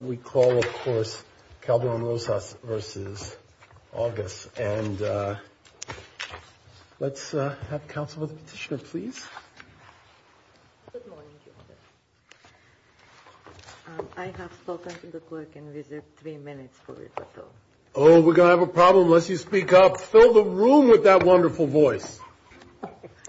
We call, of course, Calderon Rosas versus August, and let's have Councilor Petitioner, please. I have spoken to the clerk and reserved three minutes for this at all. Oh, we're going to have a problem unless you speak up. Fill the room with that wonderful voice.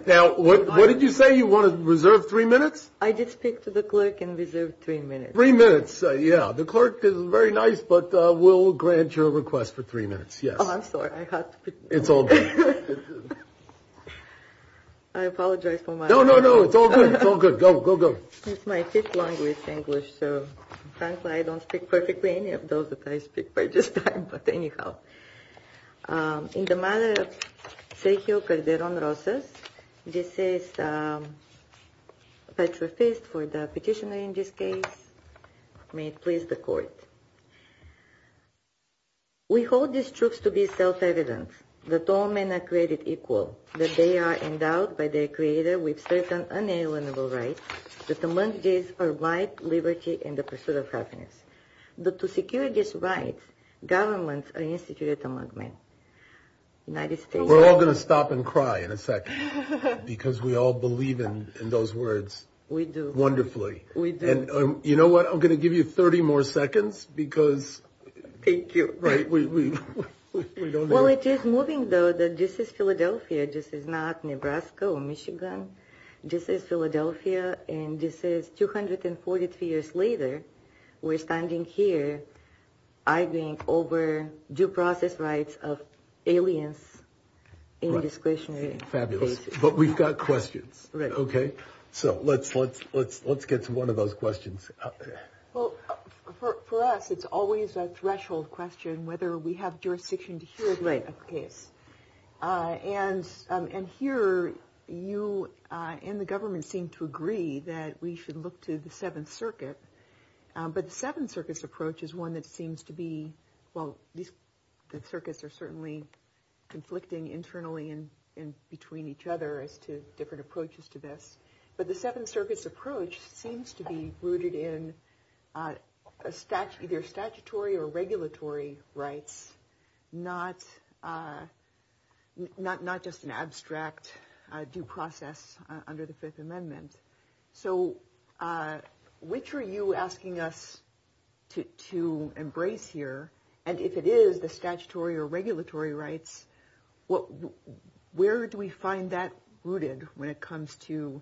Now, what did you say? You wanted to reserve three minutes? I did speak to the clerk and reserved three minutes. Three minutes, yeah. The clerk is very nice, but we'll grant your request for three minutes. Oh, I'm sorry. I have to speak up. It's all good. I apologize for my— No, no, no. It's all good. It's all good. Go, go, go. It's my fifth language, English, so frankly, I don't speak perfectly any of those that I speak by this time, but anyhow. In the matter of Sergio Calderon Rosas, this is Petrofis for the petitioner in this case. May it please the Court. We hold these truths to be self-evident, that all men are created equal, that they are endowed by their Creator with certain unalienable rights, that among these are right, liberty, and the pursuit of happiness. But to secure these rights, governments are instituted among men. United States— We're all going to stop and cry in a second because we all believe in those words. We do. Wonderfully. We do. And you know what? I'm going to give you 30 more seconds because— Thank you. Well, it is moving, though, that this is Philadelphia. This is not Nebraska or Michigan. This is Philadelphia, and this is 243 years later. We're standing here arguing over due process rights of aliens in this question. Fabulous. But we've got questions. Okay. Okay? So let's get to one of those questions. Well, for us, it's always a threshold question whether we have jurisdiction to hear this case. Right. And here, you and the government seem to agree that we should look to the Seventh Circuit. But the Seventh Circuit's approach is one that seems to be—well, the circuits are certainly conflicting internally and between each other as to different approaches to this. But the Seventh Circuit's approach seems to be rooted in either statutory or regulatory rights, not just an abstract due process under the Fifth Amendment. So which are you asking us to embrace here? And if it is the statutory or regulatory rights, where do we find that rooted when it comes to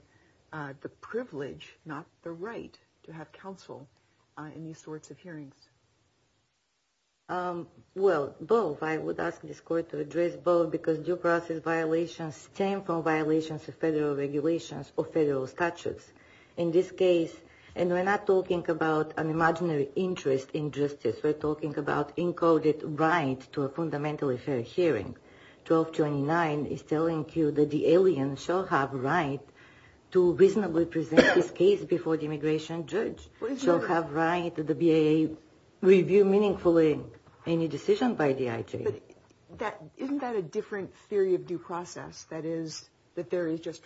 the privilege, not the right, to have counsel in these sorts of hearings? Well, both. I would ask this court to address both because due process violations stem from violations of federal regulations or federal statutes. In this case—and we're not talking about an imaginary interest in justice. We're talking about encoded rights to a fundamental affair hearing. 1229 is telling you that the aliens shall have a right to reasonably present this case before the immigration judge. They shall have a right to review meaningfully any decision by the IJ. But isn't that a different theory of due process? That is, that there is just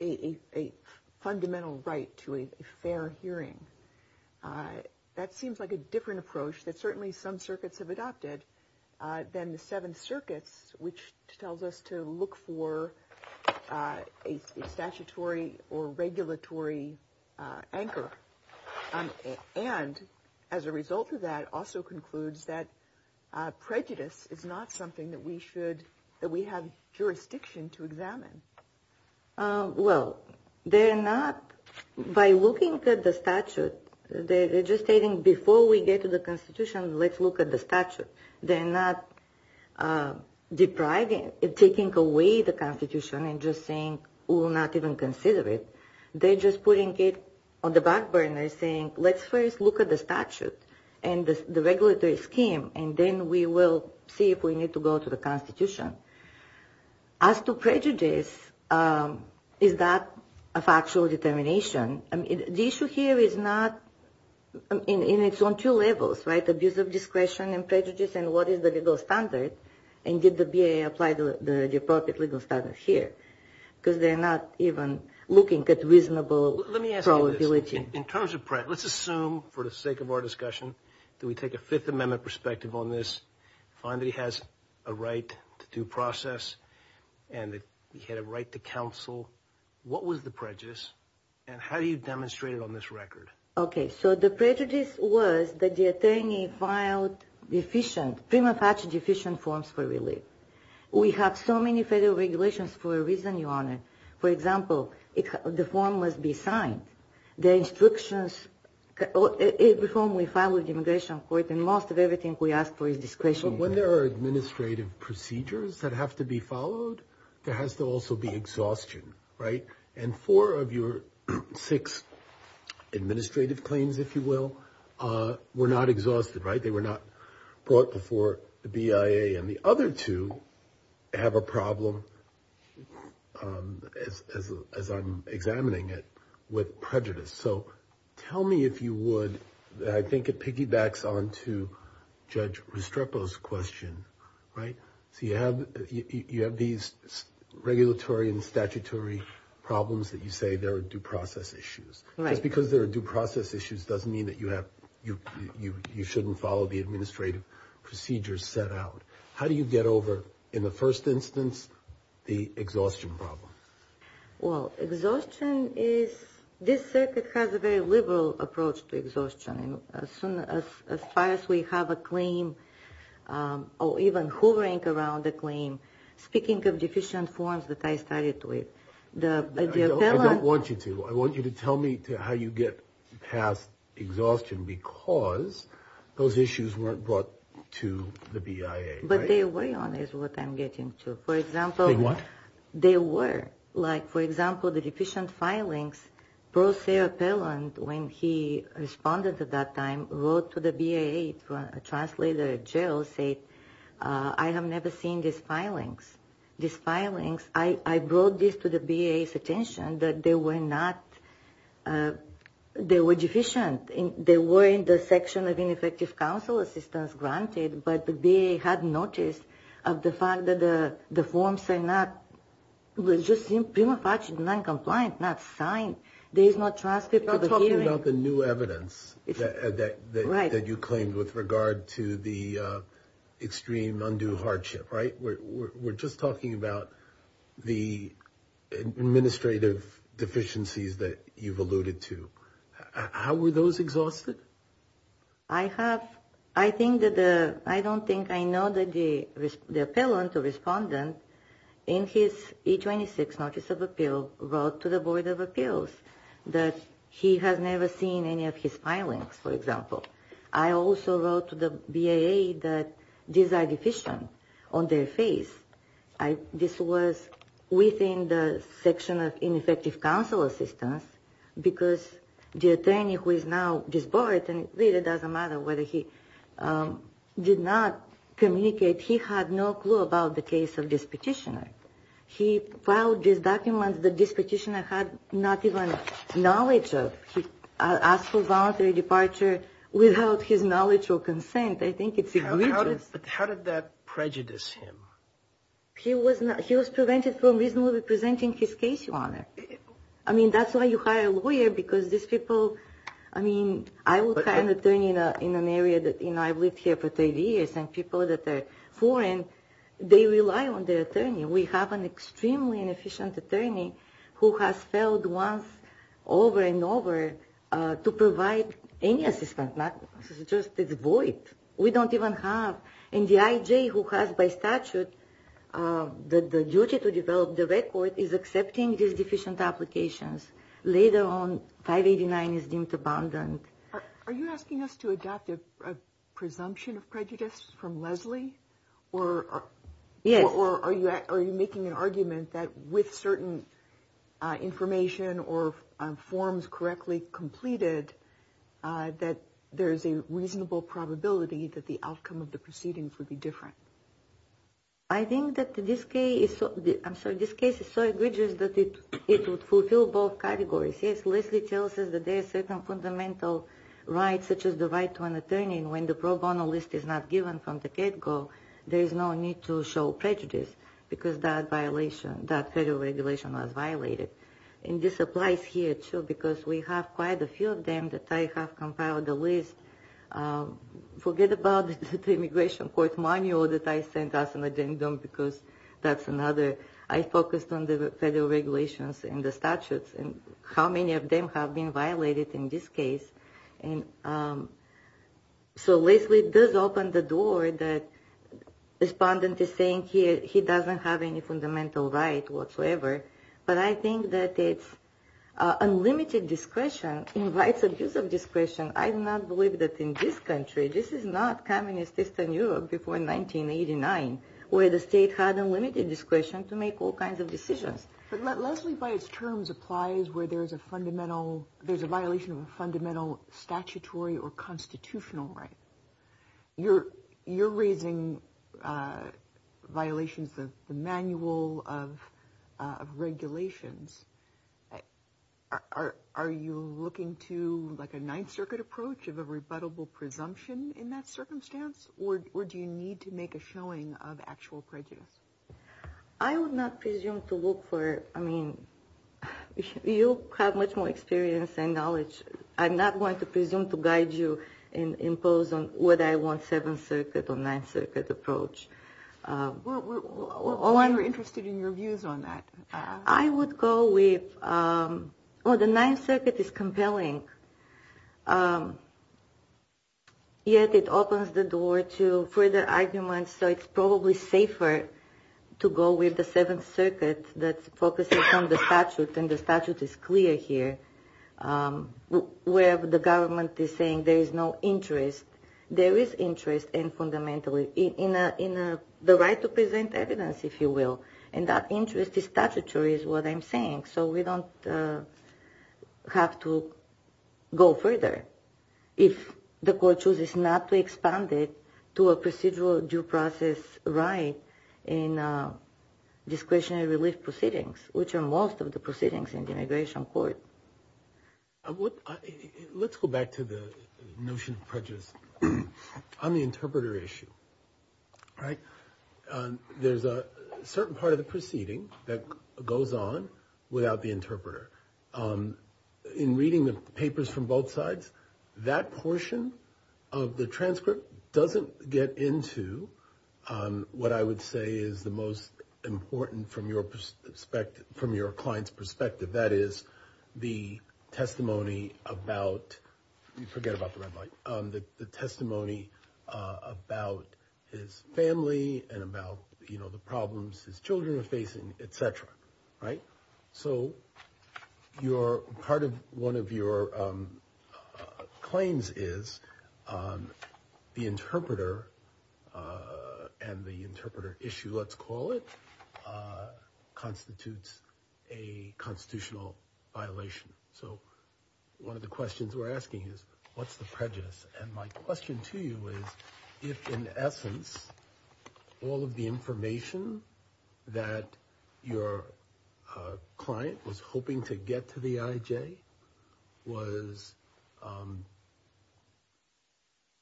a fundamental right to a fair hearing. That seems like a different approach that certainly some circuits have adopted than the Seventh Circuit's, which tells us to look for a statutory or regulatory anchor. And as a result of that, also concludes that prejudice is not something that we have jurisdiction to examine. Well, they're not—by looking at the statute, they're just saying, before we get to the Constitution, let's look at the statute. They're not depriving—taking away the Constitution and just saying, we will not even consider it. They're just putting it on the back burner, saying, let's first look at the statute and the regulatory scheme, and then we will see if we need to go to the Constitution. As to prejudice, is that a factual determination? The issue here is not—and it's on two levels, right? Abuse of discretion and prejudice, and what is the legal standard, and did the BIA apply the appropriate legal standards here? Because they're not even looking at reasonable probability. Let me ask you this. In terms of—let's assume, for the sake of our discussion, that we take a Fifth Amendment perspective on this, find that he has a right to due process, and that he had a right to counsel. What was the prejudice, and how do you demonstrate it on this record? Okay, so the prejudice was that the attorney filed deficient—prima facie deficient forms for relief. We have so many federal regulations for a reason, Your Honor. For example, the form must be signed. The instructions—the form will follow the immigration court, and most of everything we ask for is discretion. But when there are administrative procedures that have to be followed, there has to also be exhaustion, right? And four of your six administrative claims, if you will, were not exhausted, right? They were not brought before the BIA, and the other two have a problem, as I'm examining it, with prejudice. So tell me if you would—I think it piggybacks onto Judge Restrepo's question, right? So you have these regulatory and statutory problems that you say they're due process issues. Just because they're due process issues doesn't mean that you have—you shouldn't follow the administrative procedures set out. How do you get over, in the first instance, the exhaustion problem? Well, exhaustion is—this circuit has a very liberal approach to exhaustion. As far as we have a claim, or even who rank around the claim, speaking of deficient forms that I started with, the— I don't want you to. I want you to tell me how you get past exhaustion because those issues weren't brought to the BIA, right? But they were, is what I'm getting to. For example— They were? They were. Like, for example, the deficient filings. Prosecutor Perland, when he responded at that time, wrote to the BIA, a translator at jail, saying, I have never seen these filings. These filings—I brought this to the BIA's attention that they were not—they were deficient. They were in the section of ineffective counsel assistance granted, but the BIA had noticed the fact that the forms are not— You're talking about the new evidence that you claimed with regard to the extreme undue hardship, right? We're just talking about the administrative deficiencies that you've alluded to. How were those exhausted? I have—I think that the—I don't think I know that the appellant, the respondent, in his E-26 notice of appeal, wrote to the Board of Appeals that he had never seen any of his filings, for example. I also wrote to the BIA that these are deficient on their face. This was within the section of ineffective counsel assistance because the attorney who is now divorced, and it really doesn't matter whether he did not communicate, he had no clue about the case of this petitioner. He filed this document that this petitioner had not even knowledge of. He asked for voluntary departure without his knowledge or consent. I think it's— How did that prejudice him? He was prevented from reasonably presenting his case on it. I mean, that's why you hire a lawyer, because these people—I mean, I will find an attorney in an area that— you know, I've lived here for three years, and people that are foreign, they rely on their attorney. We have an extremely inefficient attorney who has failed once over and over to provide any assistance, not just this void. We don't even have—and the IJ who has by statute the duty to develop the record is accepting these deficient applications. Later on, 589 is deemed abundant. Are you asking us to adopt a presumption of prejudice from Leslie? Yes. Or are you making an argument that with certain information or forms correctly completed, that there's a reasonable probability that the outcome of the proceedings would be different? I think that this case is so—I'm sorry, this case is so egregious that it would fulfill both categories. Yes, Leslie tells us that there are certain fundamental rights, such as the right to an attorney, and when the pro bono list is not given from the get-go, there is no need to show prejudice, because that violation—that federal regulation was violated. And this applies here, too, because we have quite a few of them that I have compiled a list. Forget about the Immigration Court Manual that I sent out in the ding-dong, because that's another. I focused on the federal regulations and the statutes, and how many of them have been violated in this case. And so Leslie does open the door that the respondent is saying here he doesn't have any fundamental right whatsoever. But I think that it's unlimited discretion. In light of this discretion, I do not believe that in this country—this is not communist Eastern Europe before 1989, where the state had unlimited discretion to make all kinds of decisions. Leslie, by his terms, applies where there's a violation of a fundamental statutory or constitutional right. You're raising violations of the manual, of regulations. Are you looking to, like, a Ninth Circuit approach of a rebuttable presumption in that circumstance? Or do you need to make a showing of actual prejudice? I would not presume to look for—I mean, you have much more experience and knowledge. I'm not going to presume to guide you and impose on what I want Seventh Circuit or Ninth Circuit approach. Well, I'm interested in your views on that. I would go with—well, the Ninth Circuit is compelling. Yet it opens the door to further arguments. So it's probably safer to go with the Seventh Circuit that focuses on the statute, and the statute is clear here. Where the government is saying there is no interest, there is interest in fundamentally—in the right to present evidence, if you will. And that interest is statutory, is what I'm saying. So we don't have to go further if the court chooses not to expand it to a procedural due process right in discretionary relief proceedings, which are most of the proceedings in the immigration court. Let's go back to the notion of prejudice. On the interpreter issue, there's a certain part of the proceeding that goes on without the interpreter. In reading the papers from both sides, that portion of the transcript doesn't get into what I would say is the most important from your client's perspective. That is the testimony about—forget about the red light—the testimony about his family and about the problems his children are facing, et cetera. So part of one of your claims is the interpreter and the interpreter issue, let's call it, constitutes a constitutional violation. So one of the questions we're asking is, what's the prejudice? And my question to you is, if in essence all of the information that your client was hoping to get to the IJ was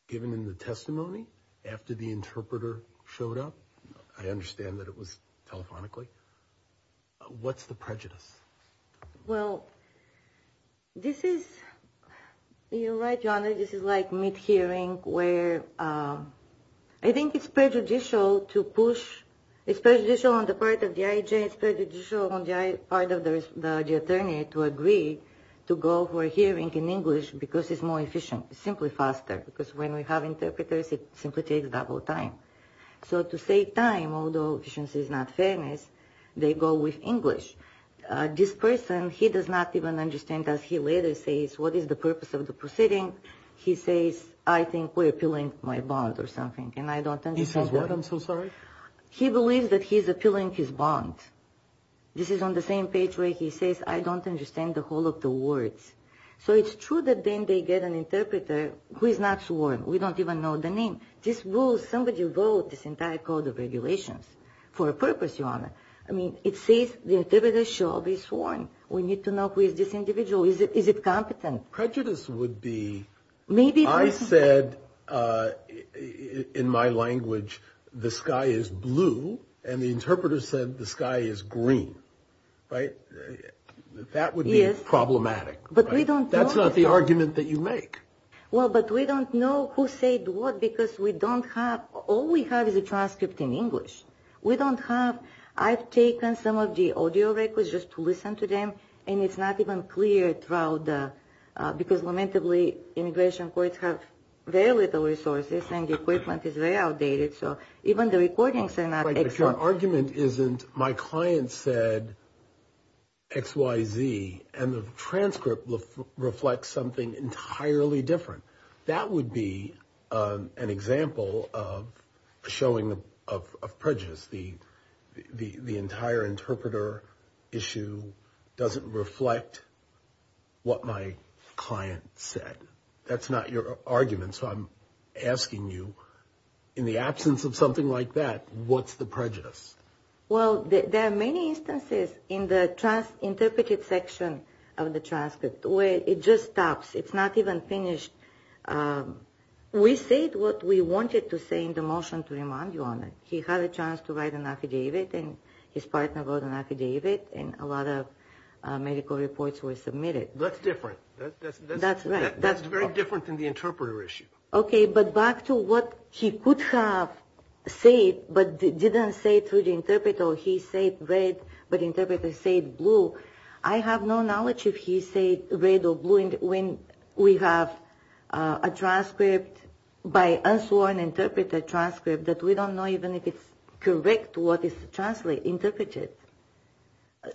given in the testimony after the interpreter showed up, I understand that it was telephonically, what's the prejudice? Well, this is—you're right, John, this is like mid-hearing where I think it's prejudicial to push—it's prejudicial on the part of the IJ, it's prejudicial on the part of the attorney to agree to go for a hearing in English because it's more efficient. It's simply faster because when we have interpreters, it simply takes double time. So to save time, although efficiency is not fairness, they go with English. This person, he does not even understand that he later says, what is the purpose of the proceeding? He says, I think we're appealing my bond or something, and I don't understand. He says what, I'm so sorry? He believes that he's appealing his bond. This is on the same page where he says, I don't understand the whole of the words. So it's true that then they get an interpreter who is not sworn. We don't even know the name. Somebody wrote this entire code of regulations for a purpose, Your Honor. I mean, it says the interpreter shall be sworn. We need to know who is this individual. Is it competent? Prejudice would be—I said in my language, the sky is blue, and the interpreter said the sky is green. That would be problematic. That's not the argument that you make. Well, but we don't know who said what because we don't have—all we have is a transcript in English. We don't have—I've taken some of the audio records just to listen to them, and it's not even clear throughout the— because lamentably, immigration courts have very little resources, and the equipment is very outdated. So even the recordings are not— If your argument isn't my client said X, Y, Z, and the transcript reflects something entirely different, that would be an example of a showing of prejudice. The entire interpreter issue doesn't reflect what my client said. That's not your argument. So I'm asking you, in the absence of something like that, what's the prejudice? Well, there are many instances in the interpreted section of the transcript where it just stops. It's not even finished. We say what we wanted to say in the motion to remind you on it. He had a chance to write an affidavit, and his partner wrote an affidavit, and a lot of medical reports were submitted. That's different. That's right. That's very different than the interpreter issue. Okay, but back to what he could have said but didn't say through the interpreter. He said red, but the interpreter said blue. I have no knowledge if he said red or blue when we have a transcript by unsworn interpreter transcript that we don't know even if it's correct what is translated, interpreted.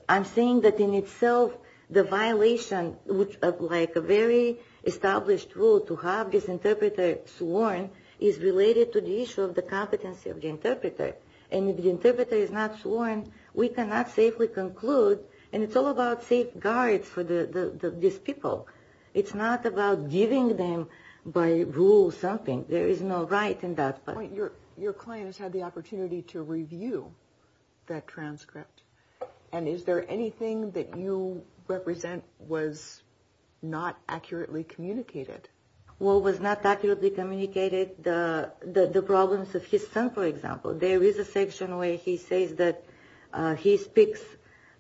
I'm saying that in itself the violation of a very established rule to have this interpreter sworn is related to the issue of the competency of the interpreter. And if the interpreter is not sworn, we cannot safely conclude, and it's all about safeguards for these people. It's not about giving them by rule something. There is no right in that. Your client has had the opportunity to review that transcript, and is there anything that you represent was not accurately communicated? What was not accurately communicated? The problems with his son, for example. There is a section where he says that he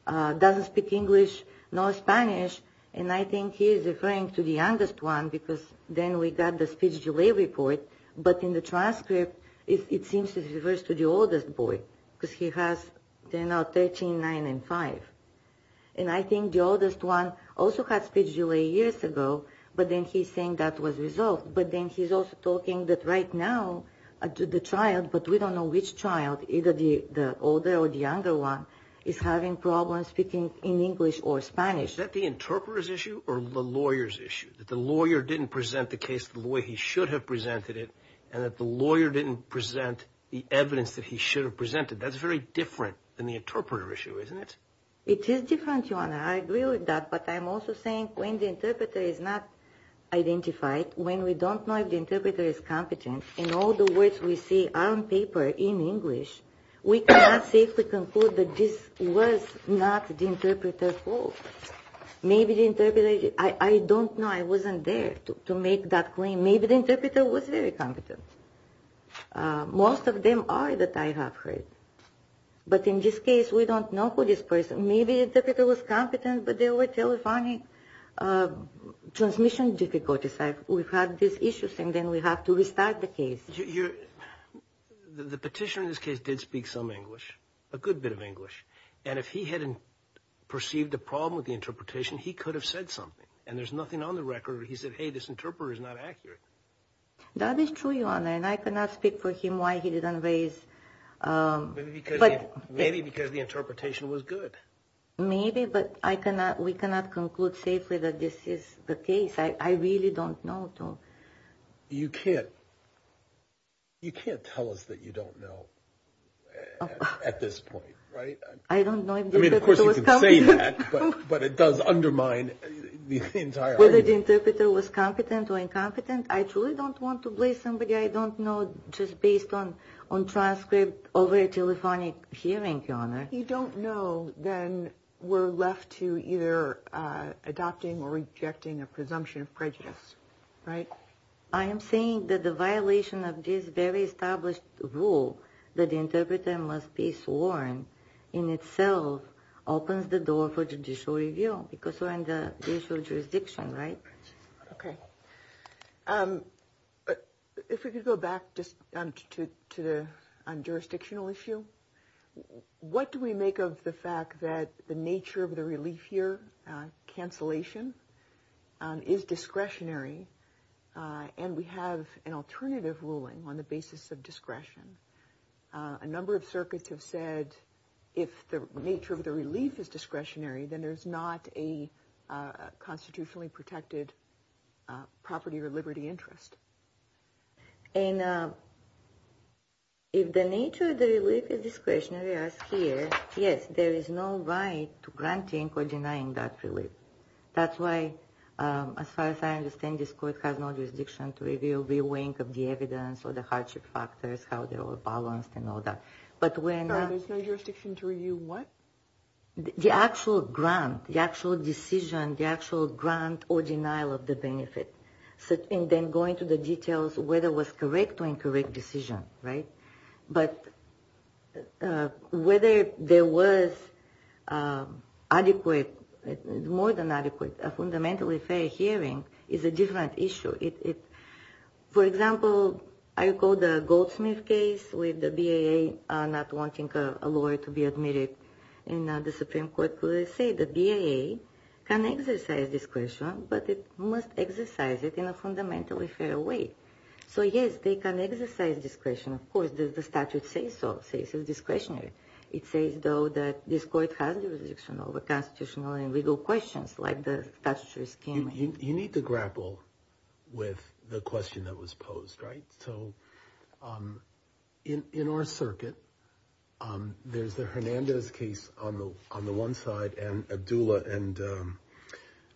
doesn't speak English nor Spanish, and I think he's referring to the youngest one because then we got the speech delay report, but in the transcript it seems to refer to the oldest boy because he has 13, 9, and 5. And I think the oldest one also had speech delay years ago, but then he's saying that was resolved. But then he's also talking that right now the child, but we don't know which child, either the older or the younger one, is having problems speaking in English or Spanish. Is that the interpreter's issue or the lawyer's issue? That the lawyer didn't present the case the way he should have presented it, and that the lawyer didn't present the evidence that he should have presented. That's very different than the interpreter issue, isn't it? It is different, Joanna. I agree with that, but I'm also saying when the interpreter is not identified, when we don't know if the interpreter is competent, in all the words we see on paper in English, we cannot safely conclude that this was not the interpreter's fault. Maybe the interpreter, I don't know. I wasn't there to make that claim. Maybe the interpreter was very competent. Most of them are that I have heard, but in this case we don't know who this person is. Maybe the interpreter was competent, but there were telephonic transmission difficulties. We have these issues, and then we have to restart the case. The petitioner in this case did speak some English, a good bit of English, and if he hadn't perceived the problem with the interpretation, he could have said something, and there's nothing on the record where he said, hey, this interpreter is not accurate. That is true, Your Honor, and I cannot speak for him why he didn't raise. Maybe because the interpretation was good. Maybe, but we cannot conclude safely that this is the case. I really don't know. You can't tell us that you don't know at this point, right? I don't know if the interpreter was competent. I mean, of course you can say that, but it does undermine the entire argument. Whether the interpreter was competent or incompetent, I truly don't want to blame somebody I don't know just based on transcript over a telephonic hearing, Your Honor. If you don't know, then we're left to either adopting or rejecting a presumption of prejudice, right? I am saying that the violation of this very established rule that the interpreter must be sworn in itself opens the door for judicial review because we're in the judicial jurisdiction, right? Okay. If we could go back to the jurisdictional issue, what do we make of the fact that the nature of the relief here, cancellation, is discretionary and we have an alternative ruling on the basis of discretion? A number of circuits have said if the nature of the relief is discretionary, then there's not a constitutionally protected property or liberty interest. And if the nature of the relief is discretionary as here, yes, there is no right to granting or denying that relief. That's why, as far as I understand, this court has no jurisdiction to review the weight of the evidence or the hardship factors, how they're all balanced and all that. Sorry, there's no jurisdiction to review what? The actual grant, the actual decision, the actual grant or denial of the benefit. And then going to the details, whether it was a correct or incorrect decision, right? But whether there was adequate, more than adequate, a fundamentally fair hearing is a different issue. For example, I recall the Goldsmith case with the BAA not wanting a lawyer to be admitted in the Supreme Court to say the BAA can exercise discretion, but it must exercise it in a fundamentally fair way. So, yes, they can exercise discretion. Of course, does the statute say so? It says it's discretionary. It says, though, that this court has jurisdiction over constitutional and legal questions like the statutory scheme. You need to grapple with the question that was posed, right? So in our circuit, there's a Hernandez case on the one side and Abdullah and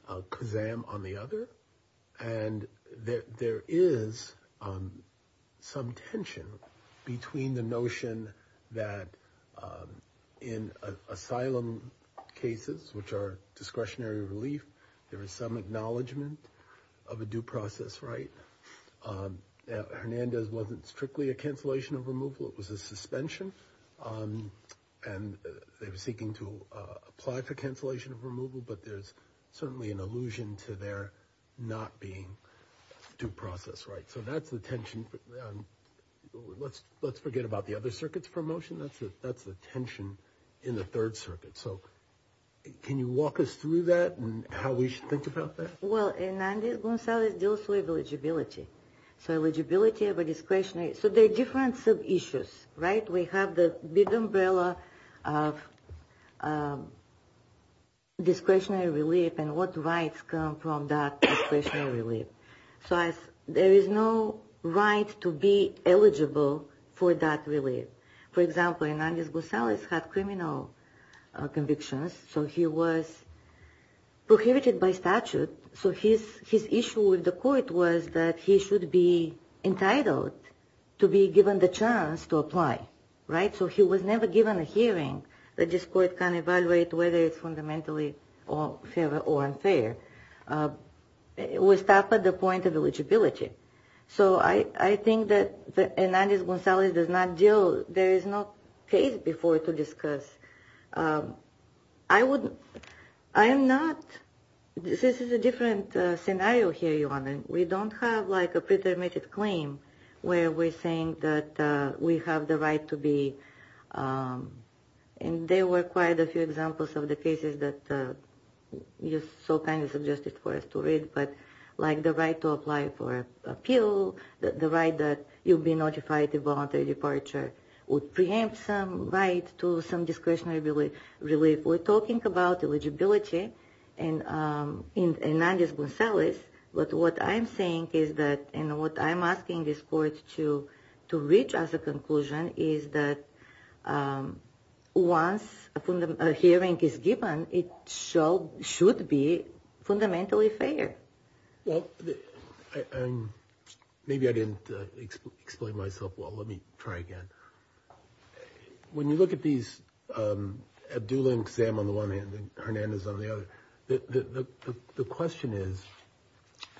Kuzam on the other. And there is some tension between the notion that in asylum cases, which are discretionary relief, there is some acknowledgement of a due process, right? Hernandez wasn't strictly a cancellation of removal, it was a suspension. And they were seeking to apply for cancellation of removal, but there's certainly an allusion to there not being due process, right? So that's the tension. Let's forget about the other circuits for motion. That's the tension in the Third Circuit. So can you walk us through that and how we should think about that? Well, Hernandez-Gonzalez deals with eligibility. So eligibility of a discretionary – so there are different sub-issues, right? We have the big umbrella of discretionary relief and what rights come from that discretionary relief. So there is no right to be eligible for that relief. For example, Hernandez-Gonzalez had criminal convictions, so he was prohibited by statute. So his issue with the court was that he should be entitled to be given the chance to apply, right? So he was never given a hearing that this court can evaluate whether it's fundamentally fair or unfair. It was stopped at the point of eligibility. So I think that Hernandez-Gonzalez does not deal – there is no case before to discuss. I would – I'm not – this is a different scenario here, Your Honor. We don't have, like, a pretermitted claim where we're saying that we have the right to be – and there were quite a few examples of the cases that you so kindly suggested for us to read, but, like, the right to apply for appeal, the right that you'd be notified of voluntary departure, would preempt some right to some discretionary relief. We're talking about eligibility in Hernandez-Gonzalez, but what I'm saying is that – and what I'm asking this court to reach as a conclusion is that once a hearing is given, it should be fundamentally fair. Well, and maybe I didn't explain myself well. Let me try again. When you look at these – Abdullah and Kazam on the one hand and Hernandez on the other, the question is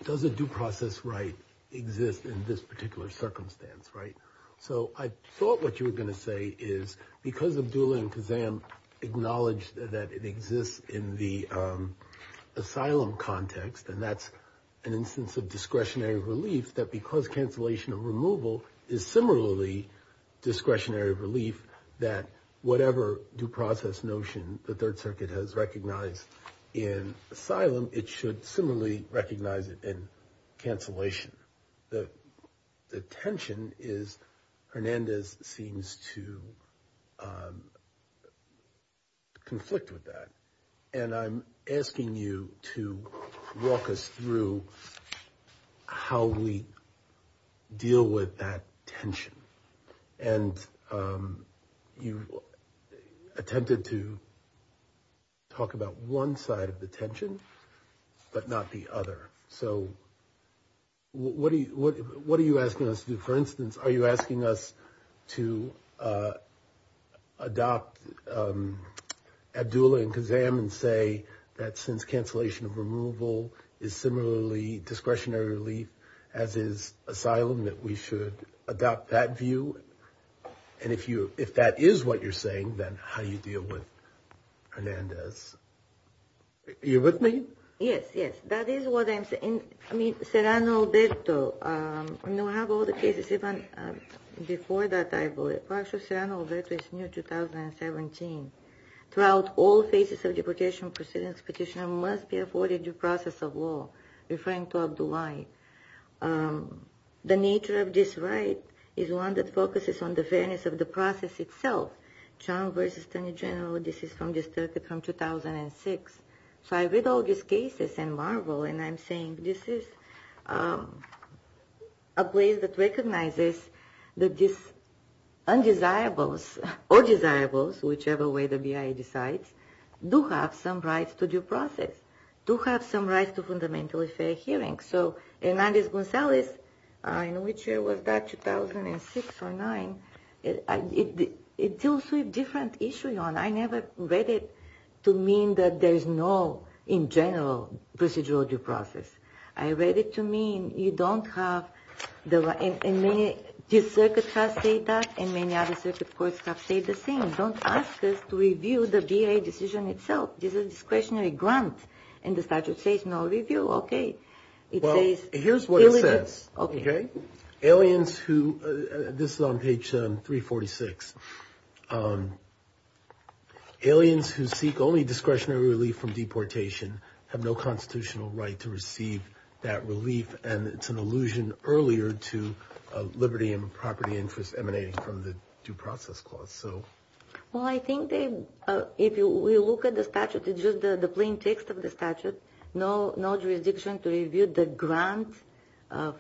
does a due process right exist in this particular circumstance, right? So I thought what you were going to say is because Abdullah and Kazam acknowledged that it exists in the asylum context and that's an instance of discretionary relief, that because cancellation of removal is similarly discretionary relief, that whatever due process notion the Third Circuit has recognized in asylum, it should similarly recognize it in cancellation. The tension is Hernandez seems to conflict with that. And I'm asking you to walk us through how we deal with that tension. And you attempted to talk about one side of the tension but not the other. So what are you asking us to do? For instance, are you asking us to adopt Abdullah and Kazam and say that since cancellation of removal is similarly discretionary relief, as is asylum, that we should adopt that view? And if that is what you're saying, then how do you deal with Hernandez? Are you with me? Yes, yes. That is what I'm saying. Serrano-Alberto, and we have all the cases even before that, I believe. Serrano-Alberto is new, 2017. Throughout all cases of deportation proceedings, petitioner must be afforded due process of law, referring to Abdullahi. The nature of this right is one that focuses on the fairness of the process itself. This is from 2006. So I read all these cases and marvel, and I'm saying, this is a place that recognizes that these undesirables or desirables, whichever way the BIA decides, do have some rights to due process, do have some rights to fundamentally fair hearing. So Hernandez-Gonzalez, in which year was that? 2006 or 2009. It deals with different issues. I never read it to mean that there is no, in general, procedural due process. I read it to mean you don't have the right. And many district courts have said that, and many other district courts have said the same. Don't ask us to review the BIA decision itself. This is a discretionary grant, and the statute says no review. Well, here's what it says. Aliens who, this is on page 346. Aliens who seek only discretionary relief from deportation have no constitutional right to receive that relief, and it's an allusion earlier to liberty and property interests emanating from the due process clause. Well, I think if we look at the statute, it's just the plain text of the statute. No jurisdiction to review the grant of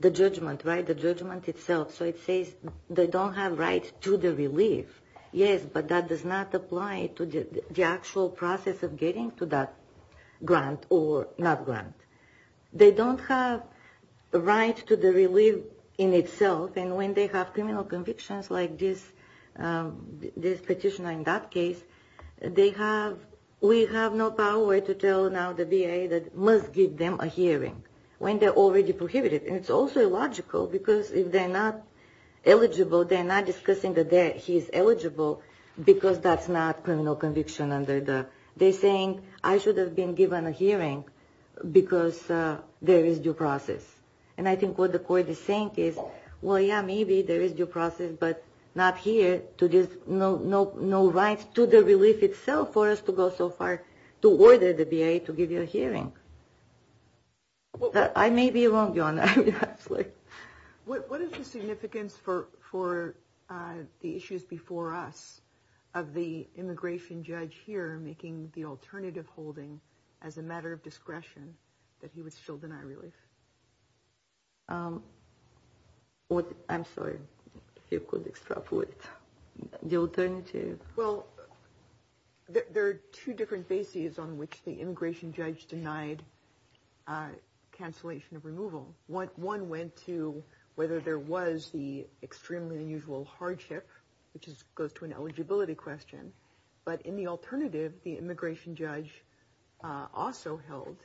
the judgment, right, the judgment itself. So it says they don't have rights to the relief. Yes, but that does not apply to the actual process of getting to that grant or not grant. They don't have the right to the relief in itself, and when they have criminal convictions like this petitioner in that case, they have, we have no power to tell now the BIA that must give them a hearing when they're already prohibited, and it's also illogical because if they're not eligible, they're not discussing that he's eligible because that's not a criminal conviction under the, they're saying I should have been given a hearing because there is due process, and I think what the court is saying is, well, yeah, maybe there is due process, but not here to give no right to the relief itself for us to go so far to order the BIA to give you a hearing. I may be wrong, Your Honor. What is the significance for the issues before us of the immigration judge here making the alternative holding as a matter of discretion that he would still deny relief? I'm sorry. The alternative? Well, there are two different bases on which the immigration judge denied cancellation of removal. One went to whether there was the extremely unusual hardship, which goes to an eligibility question, but in the alternative, the immigration judge also held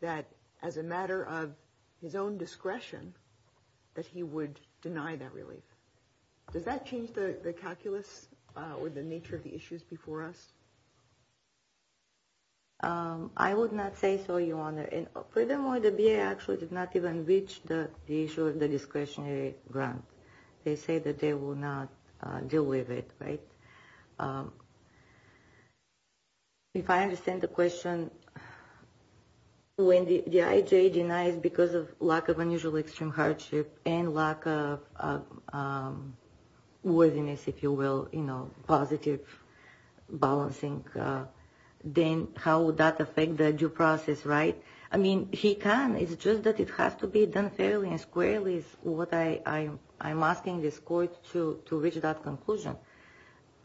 that as a matter of his own discretion that he would deny that relief. Does that change the calculus or the nature of the issues before us? I would not say so, Your Honor. For them, the BIA actually did not even reach the issue of the discretionary grant. They say that they will not deal with it, right? If I understand the question, when the IJ denied because of lack of unusual extreme hardship and lack of worthiness, if you will, you know, positive balancing, then how would that affect the due process, right? I mean, he can. It's just that it has to be done fairly and squarely is what I'm asking this court to reach that conclusion.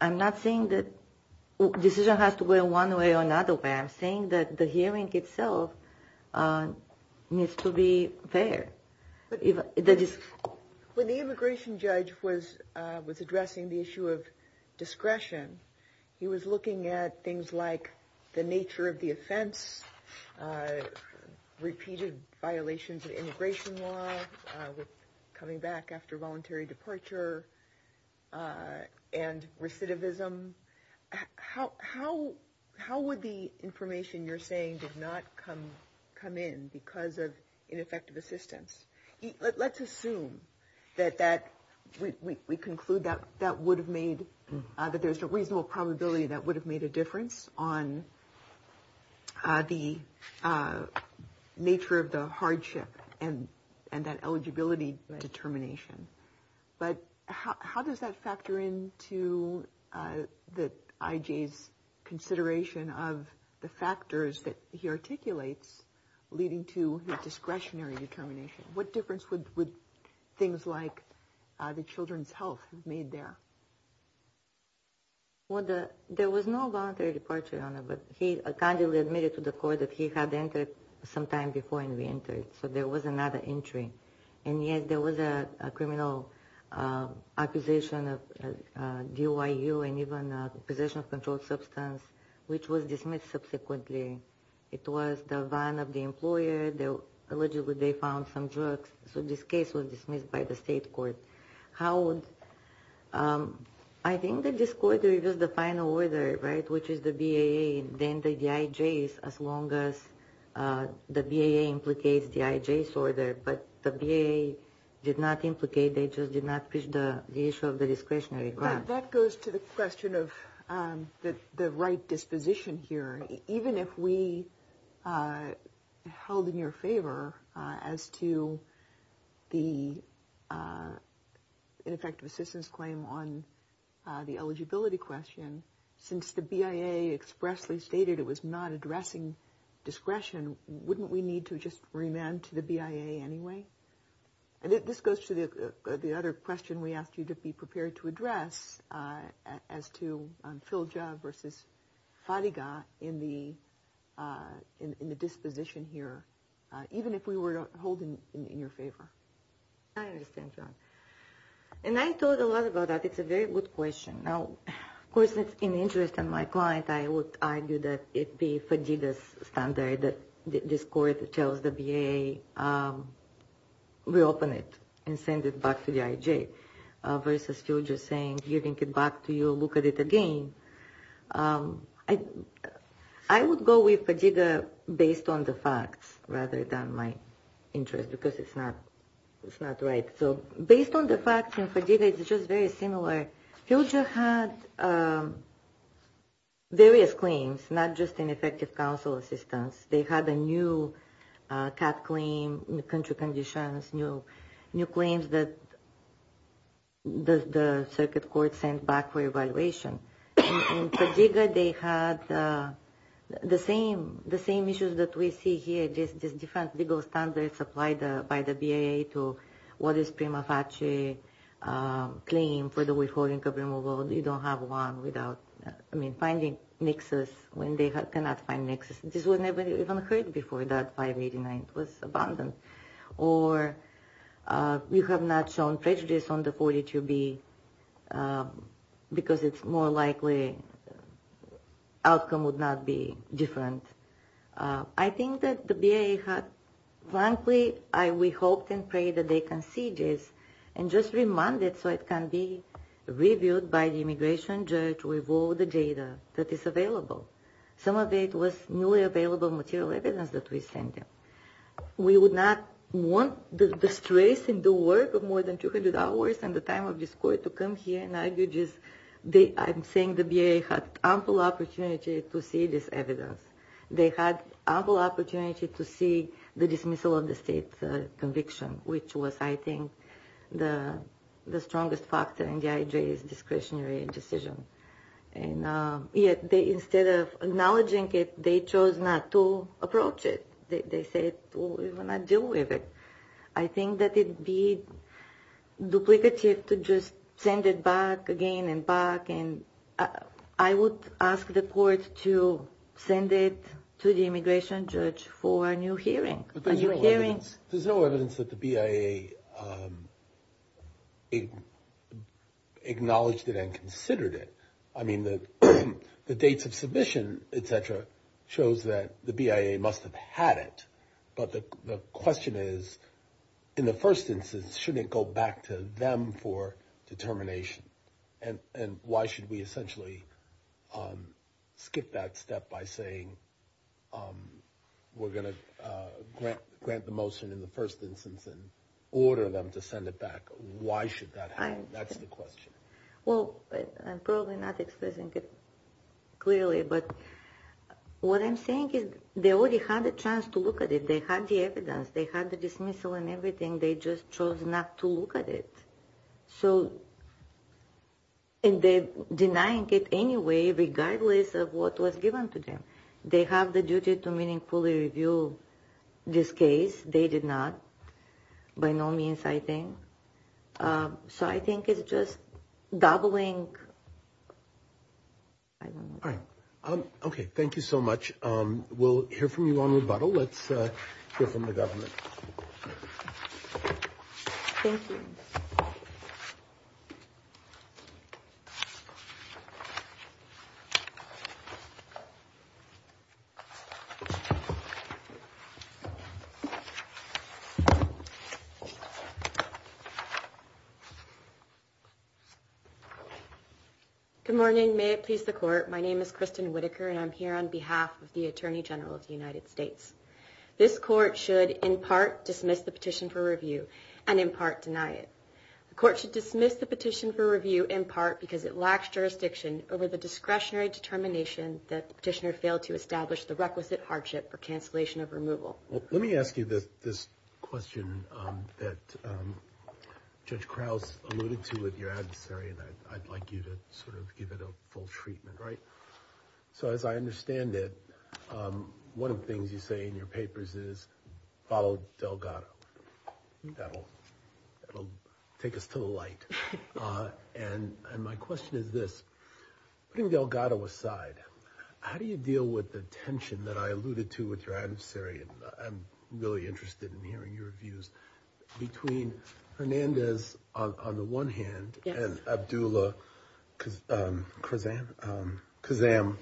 I'm not saying that the decision has to go one way or another way. I'm saying that the hearing itself needs to be fair. When the immigration judge was addressing the issue of discretion, he was looking at things like the nature of the offense, repeated violations of immigration law, coming back after voluntary departure, and recidivism. How would the information you're saying did not come in because of ineffective assistance? Let's assume that we conclude that there's a reasonable probability that would have made a difference on the nature of the hardship and that eligibility determination. But how does that factor into the IJ's consideration of the factors that he articulates leading to the discretionary determination? What difference would things like the children's health have made there? Well, there was no voluntary departure on it, but he kindly admitted to the court that he had entered sometime before he entered, so there was another entry. And yet there was a criminal accusation of DOIU and even possession of controlled substance, which was dismissed subsequently. It was the run of the employer, allegedly they found some drugs, so this case was dismissed by the state court. I think the disclosure is just the final order, right, which is the BAA and then the IJ's as long as the BAA implicates the IJ's order, but the BAA did not implicate, they just did not push the issue of the discretionary grant. That goes to the question of the right disposition here. Even if we held in your favor as to the ineffective assistance claim on the eligibility question, since the BAA expressly stated it was not addressing discretion, wouldn't we need to just remand to the BAA anyway? And this goes to the other question we asked you to be prepared to address as to PILJA versus SALIGA in the disposition here, even if we were to hold it in your favor. I understand, John. And I thought a lot about that. It's a very good question. Of course, it's in the interest of my client, I would argue that if the FADIGA standard, this court tells the BAA, reopen it and send it back to the IJ versus PILJA saying give it back to you, look at it again. I would go with FADIGA based on the facts rather than my interest because it's not right. Based on the facts in FADIGA, it's just very similar. PILJA had various claims, not just ineffective counsel assistance. They had a new CAF claim, new country conditions, new claims that the circuit court sent back for evaluation. In FADIGA, they had the same issues that we see here. There's different legal standards applied by the BAA to what is prima facie claim for the withholding of removal. You don't have one without, I mean, finding nexus when they cannot find nexus. This was never even heard before that 589 was abandoned. Or you have not shown prejudice on the 42B because it's more likely outcome would not be different. I think that the BAA had, frankly, we hope and pray that they can see this and just remind it so it can be reviewed by the immigration judge with all the data that is available. Some of it was newly available material evidence that we sent them. We would not want the stress and the work of more than 200 hours and the time of this court to come here and argue just, I'm saying the BAA had ample opportunity to see this evidence. They had ample opportunity to see the dismissal of the state's conviction, which was, I think, the strongest factor in the IJ's discretionary decision. And yet, instead of acknowledging it, they chose not to approach it. They said, we will not deal with it. I think that it would be duplicative to just send it back again and back. And I would ask the court to send it to the immigration judge for a new hearing. There's no evidence that the BAA acknowledged it and considered it. I mean, the dates of submission, et cetera, shows that the BAA must have had it. But the question is, in the first instance, shouldn't it go back to them for determination? And why should we essentially skip that step by saying we're going to grant the motion in the first instance and order them to send it back? Why should that happen? That's the question. Well, I'm probably not expressing it clearly, but what I'm saying is they already had a chance to look at it. They had the evidence. They had the dismissal and everything. They just chose not to look at it. So in denying it anyway, regardless of what was given to them, they have the duty to meaningfully review this case. They did not, by no means, I think. So I think it's just gobbling. Okay. Thank you so much. We'll hear from you on rebuttal. Let's hear from the government. Thank you. Good morning. May it please the Court. My name is Kristen Whitaker, and I'm here on behalf of the Attorney General of the United States. This Court should, in part, dismiss the petition for review and, in part, deny it. The Court should dismiss the petition for review, in part, because it lacks jurisdiction over the discretionary determination that the petitioner failed to establish the requisite hardship for cancellation of removal. Let me ask you this question that Judge Krause alluded to with your adversary, and I'd like you to sort of give it a full treatment, right? So as I understand it, one of the things you say in your papers is, follow Delgado. That'll take us to the light. And my question is this. Putting Delgado aside, how do you deal with the tension that I alluded to with your adversary? I'm really interested in hearing your views. Between Fernandez on the one hand and Abdullah Kazam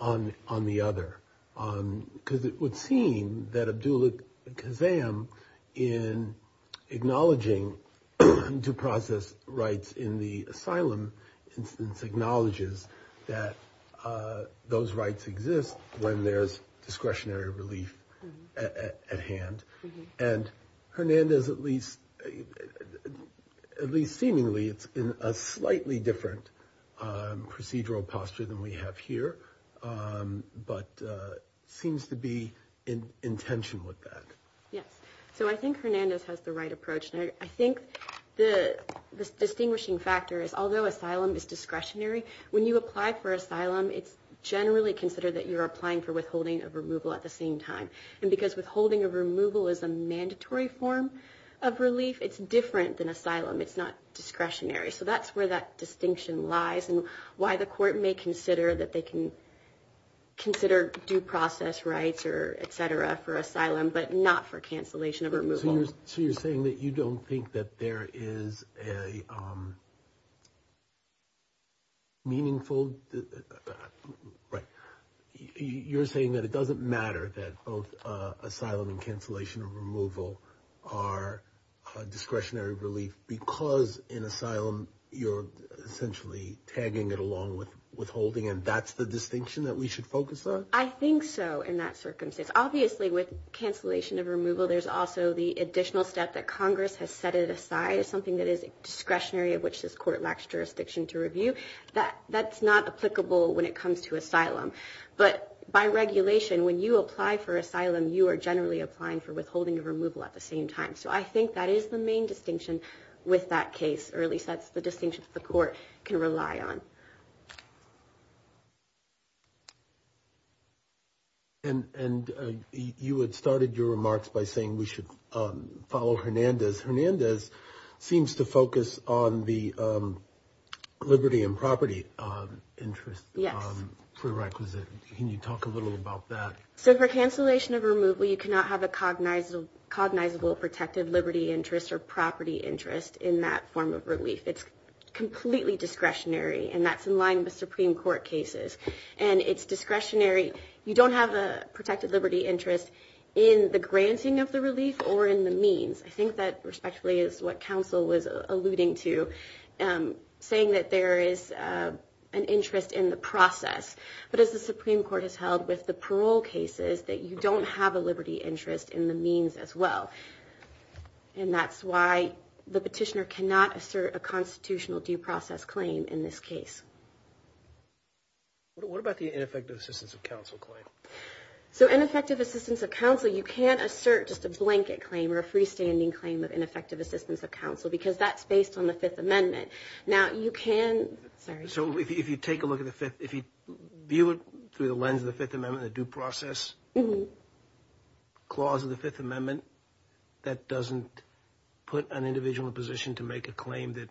on the other, because it would seem that Abdullah Kazam, in acknowledging due process rights in the asylum, acknowledges that those rights exist when there's discretionary relief at hand. And Fernandez, at least seemingly, is in a slightly different procedural posture than we have here, but seems to be in tension with that. Yes. So I think Fernandez has the right approach. I think the distinguishing factor is, although asylum is discretionary, when you apply for asylum, it's generally considered that you're applying for withholding of removal at the same time. And because withholding of removal is a mandatory form of relief, it's different than asylum. It's not discretionary. So that's where that distinction lies and why the court may consider that they can consider due process rights or et cetera for asylum, but not for cancellation of removal. So you're saying that you don't think that there is a meaningful – right. You're saying that it doesn't matter that both asylum and cancellation of removal are discretionary relief because in asylum you're essentially tagging it along with withholding, and that's the distinction that we should focus on? I think so in that circumstance. Obviously, with cancellation of removal, there's also the additional step that Congress has set it aside as something that is discretionary of which this court lacks jurisdiction to review. That's not applicable when it comes to asylum. But by regulation, when you apply for asylum, you are generally applying for withholding of removal at the same time. So I think that is the main distinction with that case, or at least that's the distinction the court can rely on. And you had started your remarks by saying we should follow Hernandez. Hernandez seems to focus on the liberty and property interest prerequisite. Can you talk a little about that? So for cancellation of removal, you cannot have a cognizable protected liberty interest or property interest in that form of relief. It's completely discretionary, and that's in line with Supreme Court cases. And it's discretionary. You don't have a protected liberty interest in the granting of the relief or in the means. I think that respectfully is what counsel was alluding to, saying that there is an interest in the process. But as the Supreme Court has held with the parole cases, that you don't have a liberty interest in the means as well. And that's why the petitioner cannot assert a constitutional due process claim in this case. What about the ineffective assistance of counsel claim? So ineffective assistance of counsel, you can't assert just a blanket claim or a freestanding claim with ineffective assistance of counsel because that's based on the Fifth Amendment. So if you view it through the lens of the Fifth Amendment, the due process clause of the Fifth Amendment, that doesn't put an individual in a position to make a claim that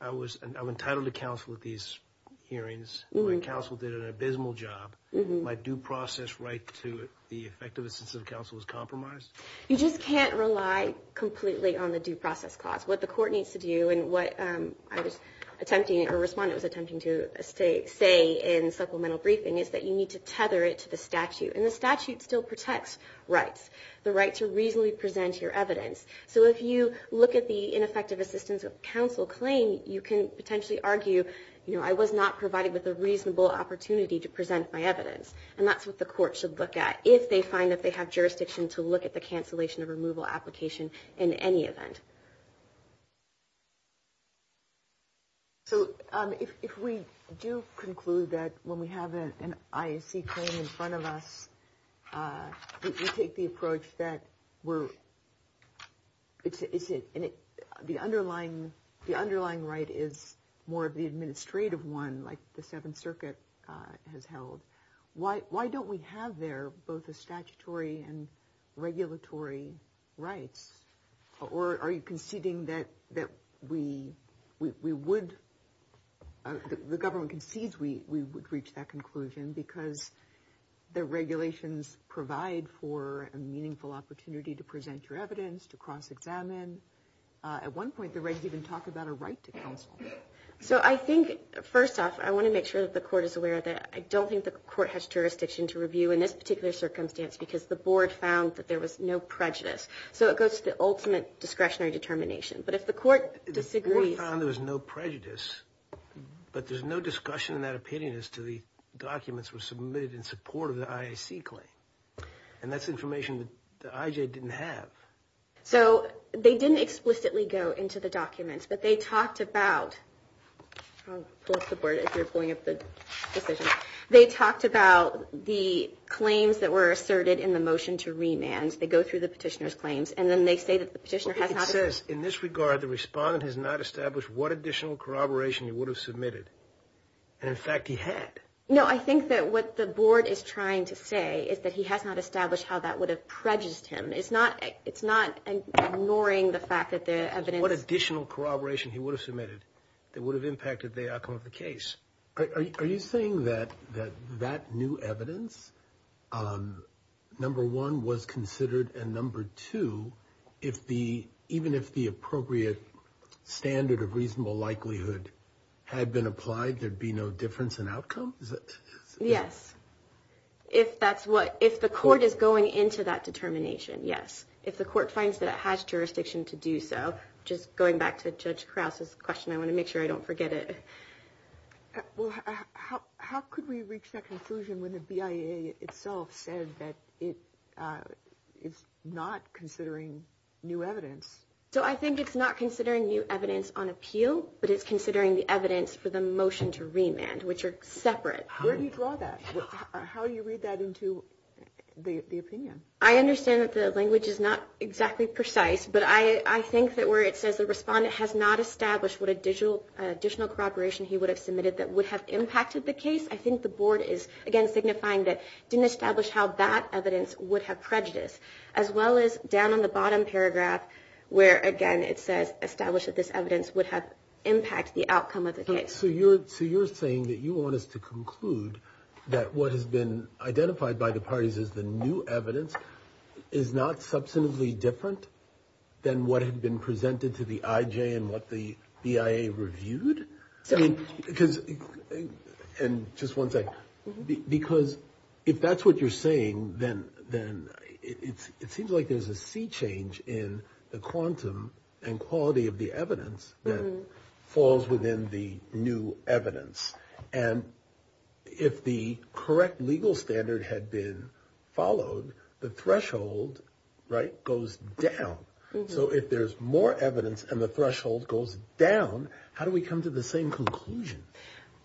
I'm entitled to counsel at these hearings, or the counsel did an abysmal job. My due process right to the effective assistance of counsel is compromised? You just can't rely completely on the due process clause. What the court needs to do and what I was attempting or responded with attention to say in supplemental briefing is that you need to tether it to the statute. And the statute still protects rights, the right to reasonably present your evidence. So if you look at the ineffective assistance of counsel claim, you can potentially argue, you know, I was not provided with a reasonable opportunity to present my evidence. And that's what the court should look at, if they find that they have jurisdiction to look at the cancellation of removal application in any event. So if we do conclude that when we have an IAC claim in front of us, we take the approach that the underlying right is more of the administrative one, like the Seventh Circuit has held, why don't we have there both the statutory and regulatory rights? Or are you conceding that we would, the government concedes we would reach that conclusion because the regulations provide for a meaningful opportunity to present your evidence, to cross-examine. At one point, they're ready to even talk about a right to counsel. So I think, first off, I want to make sure that the court is aware that I don't think the court has jurisdiction to review in this particular circumstance because the board found that there was no prejudice. So it goes to the ultimate discretionary determination. But if the court disagrees... The board found there was no prejudice, but there's no discussion in that opinion as to the documents were submitted in support of the IAC claim. And that's information that the IJ didn't have. So they didn't explicitly go into the documents, but they talked about the claims that were asserted in the motion to remand. They go through the petitioner's claims, and then they say that the petitioner has not... Well, it says, in this regard, the respondent has not established what additional corroboration he would have submitted. And, in fact, he had. No, I think that what the board is trying to say is that he has not established how that would have prejudged him. It's not ignoring the fact that the evidence... What additional corroboration he would have submitted that would have impacted the outcome of the case. Are you saying that that new evidence, number one, was considered, and, number two, even if the appropriate standard of reasonable likelihood had been applied, there'd be no difference in outcome? Yes. If the court is going into that determination, yes. If the court finds that it has jurisdiction to do so. Just going back to Judge Krause's question, I want to make sure I don't forget it. How could we reach that conclusion when the BIA itself says that it's not considering new evidence? So I think it's not considering new evidence on appeal, but it's considering the evidence for the motion to remand, which are separate. Where do you draw that? How do you read that into the opinion? I understand that the language is not exactly precise, but I think that where it says the respondent has not established what additional corroboration he would have submitted that would have impacted the case, I think the board is, again, signifying that it didn't establish how that evidence would have prejudiced, as well as down in the bottom paragraph where, again, it says established that this evidence would have impacted the outcome of the case. So you're saying that you want us to conclude that what has been identified by the parties as the new evidence is not substantively different than what had been presented to the IJ and what the BIA reviewed? And just one thing, because if that's what you're saying, then it seems like there's a sea change in the quantum and quality of the evidence that falls within the new evidence. And if the correct legal standard had been followed, the threshold, right, goes down. So if there's more evidence and the threshold goes down, how do we come to the same conclusion?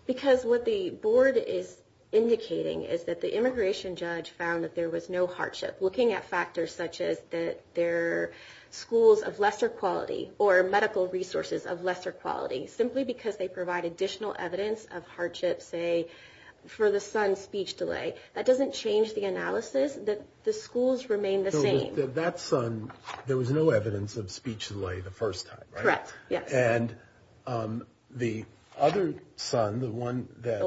Because what the board is indicating is that the immigration judge found that there was no hardship. Looking at factors such as that there are schools of lesser quality or medical resources of lesser quality, simply because they provide additional evidence of hardship, say, for the son's speech delay, that doesn't change the analysis that the schools remain the same. That son, there was no evidence of speech delay the first time, right? Correct. And the other son, the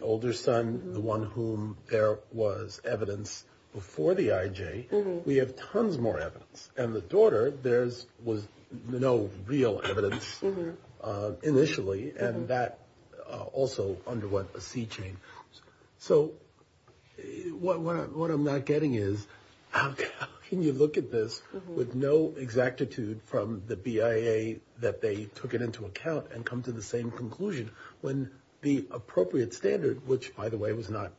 older son, the one whom there was evidence before the IJ, we have tons more evidence. And the daughter, there was no real evidence initially, and that also underwent a sea change. So what I'm not getting is how can you look at this with no exactitude from the BIA that they took it into account and come to the same conclusion when the appropriate standard, which, by the way, was not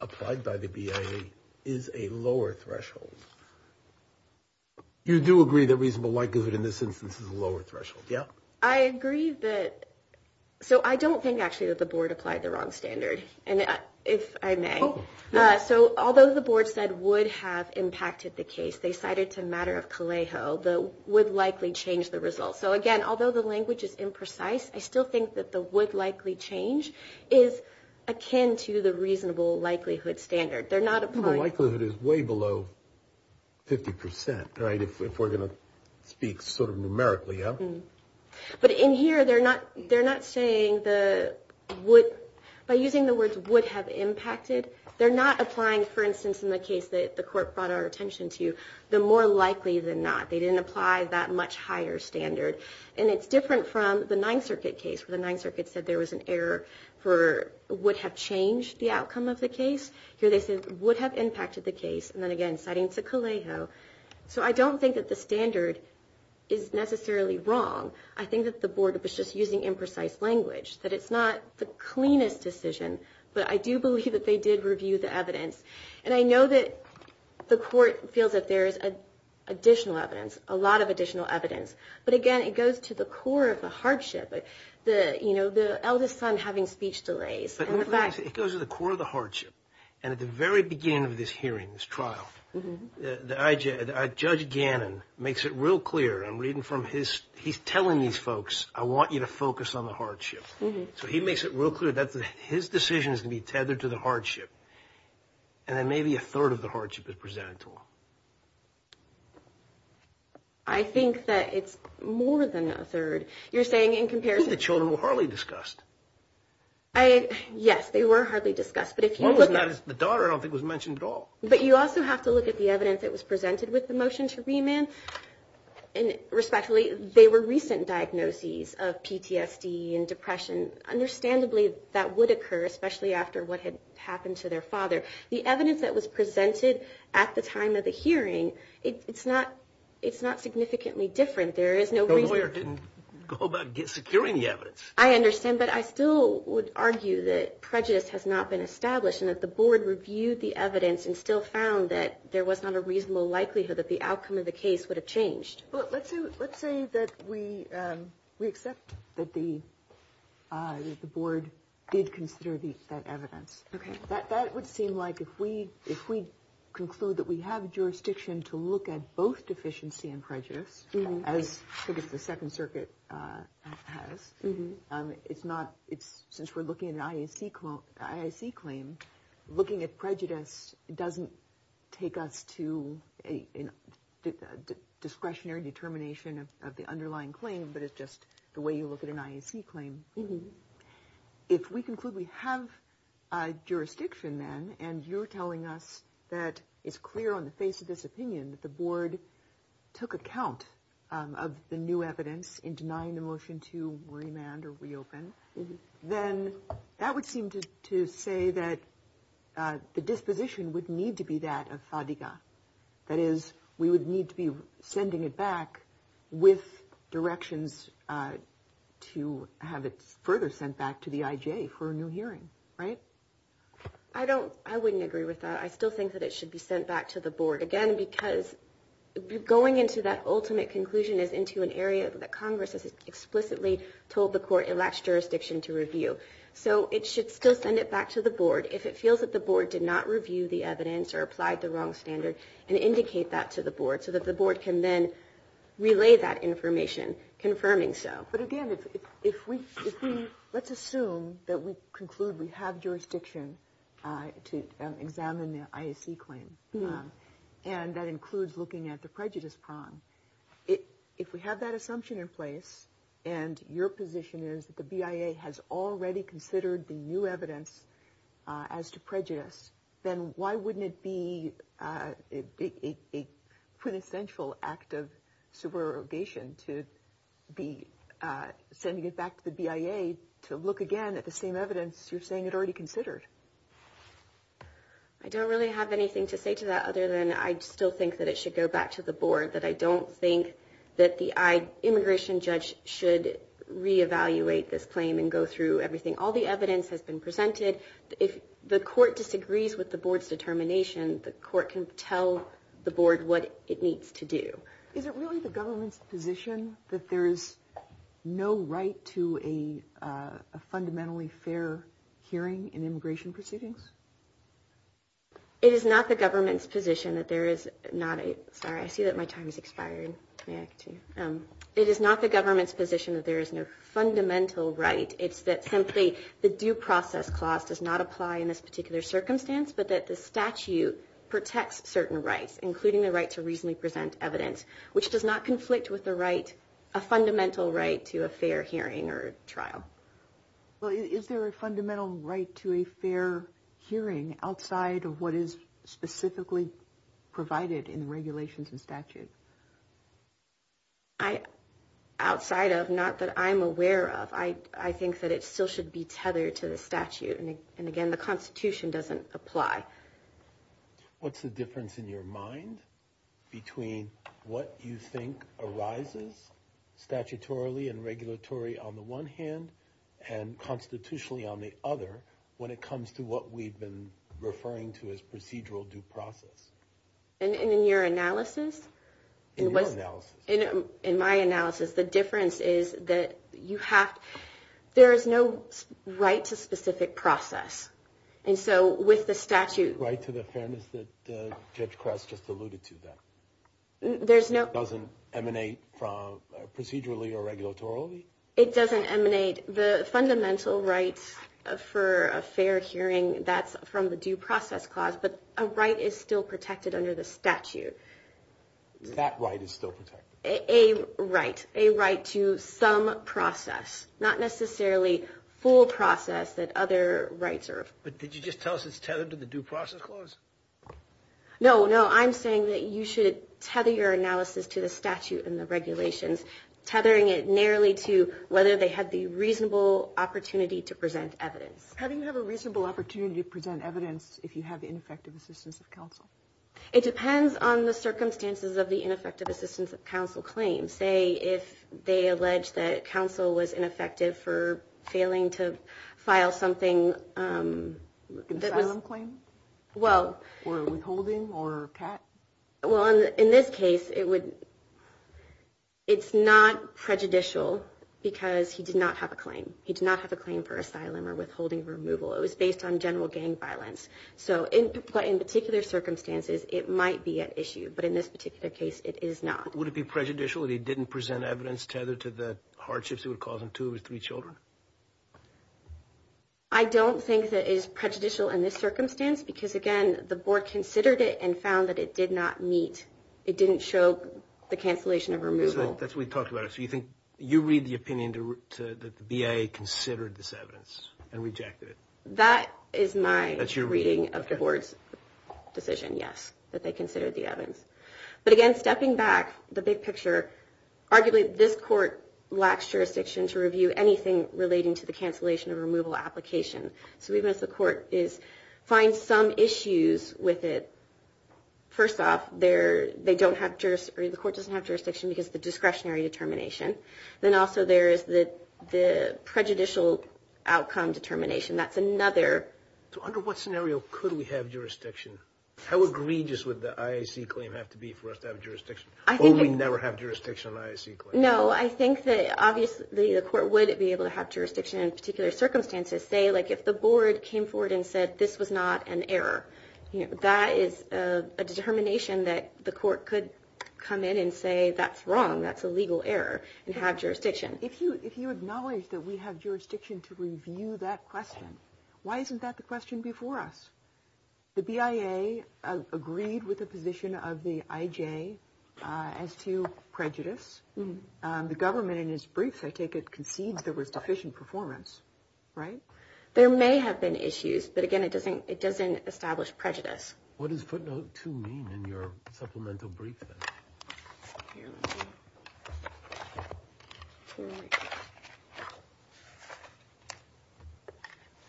applied by the BIA, is a lower threshold? You do agree that reasonable likelihood in this instance is a lower threshold, yeah? I agree that – so I don't think, actually, that the board applied the wrong standard, if I may. So although the board said would have impacted the case, they said it's a matter of Calejo, but would likely change the result. So, again, although the language is imprecise, I still think that the would likely change is akin to the reasonable likelihood standard. They're not applying – But in here, they're not saying the would – by using the words would have impacted, they're not applying, for instance, in the case that the court brought our attention to, the more likely than not. They didn't apply that much higher standard. And it's different from the Ninth Circuit case, where the Ninth Circuit said there was an error for would have changed the outcome of the case. Here they said would have impacted the case, and then again, citing the Calejo. So I don't think that the standard is necessarily wrong. I think that the board was just using imprecise language, that it's not the cleanest decision, but I do believe that they did review the evidence. And I know that the court feels that there is additional evidence, a lot of additional evidence. But, again, it goes to the core of the hardship, you know, the eldest son having speech delays. It goes to the core of the hardship, and at the very beginning of this hearing, this trial, Judge Gannon makes it real clear, and I'm reading from his – he's telling these folks, I want you to focus on the hardship. So he makes it real clear that his decision is to be tethered to the hardship, and then maybe a third of the hardship is presented to him. I think that it's more than a third. You're saying in comparison – The children were hardly discussed. Yes, they were hardly discussed, but if you look at – The daughter I don't think was mentioned at all. But you also have to look at the evidence that was presented with the motion to remand. Respectfully, they were recent diagnoses of PTSD and depression. Understandably, that would occur, especially after what had happened to their father. The evidence that was presented at the time of the hearing, it's not significantly different. There is no – The lawyer didn't go about securing the evidence. I understand that. I still would argue that prejudice has not been established and that the board reviewed the evidence and still found that there was not a reasonable likelihood that the outcome of the case would have changed. Let's say that we accept that the board did consider that evidence. That would seem like if we conclude that we have jurisdiction to look at both deficiency and prejudice, as the Second Circuit has. It's not – since we're looking at an IAC claim, looking at prejudice doesn't take us to a discretionary determination of the underlying claim, but it's just the way you look at an IAC claim. If we conclude we have jurisdiction then and you're telling us that it's clear on the face of this opinion that the board took account of the new evidence in denying the motion to remand or reopen, then that would seem to say that the disposition would need to be that of SADCA. That is, we would need to be sending it back with directions to have it further sent back to the IJ for a new hearing. Right? I don't – I wouldn't agree with that. I still think that it should be sent back to the board. Again, because going into that ultimate conclusion is into an area that Congress has explicitly told the court it lacks jurisdiction to review. So it should still send it back to the board if it feels that the board did not review the evidence or applied the wrong standards and indicate that to the board so that the board can then relay that information confirming so. But again, if we – let's assume that we conclude we have jurisdiction to examine the IAC claim, and that includes looking at the prejudice problem. If we have that assumption in place and your position is that the BIA has already considered the new evidence as to prejudice, then why wouldn't it be a quintessential act of subrogation to be sending it back to the BIA to look again at the same evidence you're saying it already considered? I don't really have anything to say to that other than I still think that it should go back to the board, that I don't think that the immigration judge should reevaluate this claim and go through everything. All the evidence has been presented. If the court disagrees with the board's determination, the court can tell the board what it needs to do. Is it really the government's position that there is no right to a fundamentally fair hearing in immigration proceedings? It is not the government's position that there is not a – sorry, I see that my time has expired. It is not the government's position that there is no fundamental right. It's that simply the due process clause does not apply in this particular circumstance, but that the statute protects certain rights, including the right to reasonably present evidence, which does not conflict with a fundamental right to a fair hearing or trial. Is there a fundamental right to a fair hearing outside of what is specifically provided in regulations and statutes? Outside of, not that I'm aware of, I think that it still should be tethered to the statute. And again, the Constitution doesn't apply. What's the difference in your mind between what you think arises statutorily and regulatory on the one hand and constitutionally on the other when it comes to what we've been referring to as procedural due process? In your analysis? In your analysis. In my analysis, the difference is that you have – there is no right to specific process. And so with the statute – Right to the fairness that Judge Kress just alluded to, though. There's no – It doesn't emanate from procedurally or regulatory? It doesn't emanate – the fundamental right for a fair hearing, that's from the due process clause, but a right is still protected under the statute. That right is still protected? A right, a right to some process, not necessarily full process that other rights are. But did you just tell us it's tethered to the due process clause? No, no. I'm saying that you should tether your analysis to the statute and the regulations, tethering it narrowly to whether they have the reasonable opportunity to present evidence. How do you have a reasonable opportunity to present evidence if you have ineffective assistance of counsel? It depends on the circumstances of the ineffective assistance of counsel claim. Say if they allege that counsel was ineffective for failing to file something that – Asylum claim? Well – Or withholding or cat? Well, in this case, it would – it's not prejudicial because he did not have a claim. He did not have a claim for asylum or withholding removal. It was based on general gang violence. So in particular circumstances, it might be an issue. But in this particular case, it is not. Would it be prejudicial if he didn't present evidence tethered to the hardships it would cause in two of his three children? I don't think that it is prejudicial in this circumstance because, again, the board considered it and found that it did not meet – it didn't show the cancellation of removal. That's what we talked about. So you read the opinion that the VA considered this evidence and rejected it? That is my reading of the board's decision, yes, that they considered the evidence. But, again, stepping back, the big picture, arguably this court lacks jurisdiction to review anything relating to the cancellation of removal application. So the reason it's the court is find some issues with it. First off, the court doesn't have jurisdiction because of the discretionary determination. Then also there is the prejudicial outcome determination. That's another. So under what scenario could we have jurisdiction? How egregious would the IAC claim have to be for us to have jurisdiction? Or we never have jurisdiction on an IAC claim? No, I think that obviously the court would be able to have jurisdiction in particular circumstances. Say, like, if the board came forward and said this was not an error. That is a determination that the court could come in and say that's wrong, that's a legal error, and have jurisdiction. If you acknowledge that we have jurisdiction to review that question, why isn't that the question before us? The BIA agreed with the position of the IJ as to prejudice. The government, in its briefs, I take it, conceded there was sufficient performance, right? There may have been issues, but, again, it doesn't establish prejudice. What does footnote 2 mean in your supplemental brief?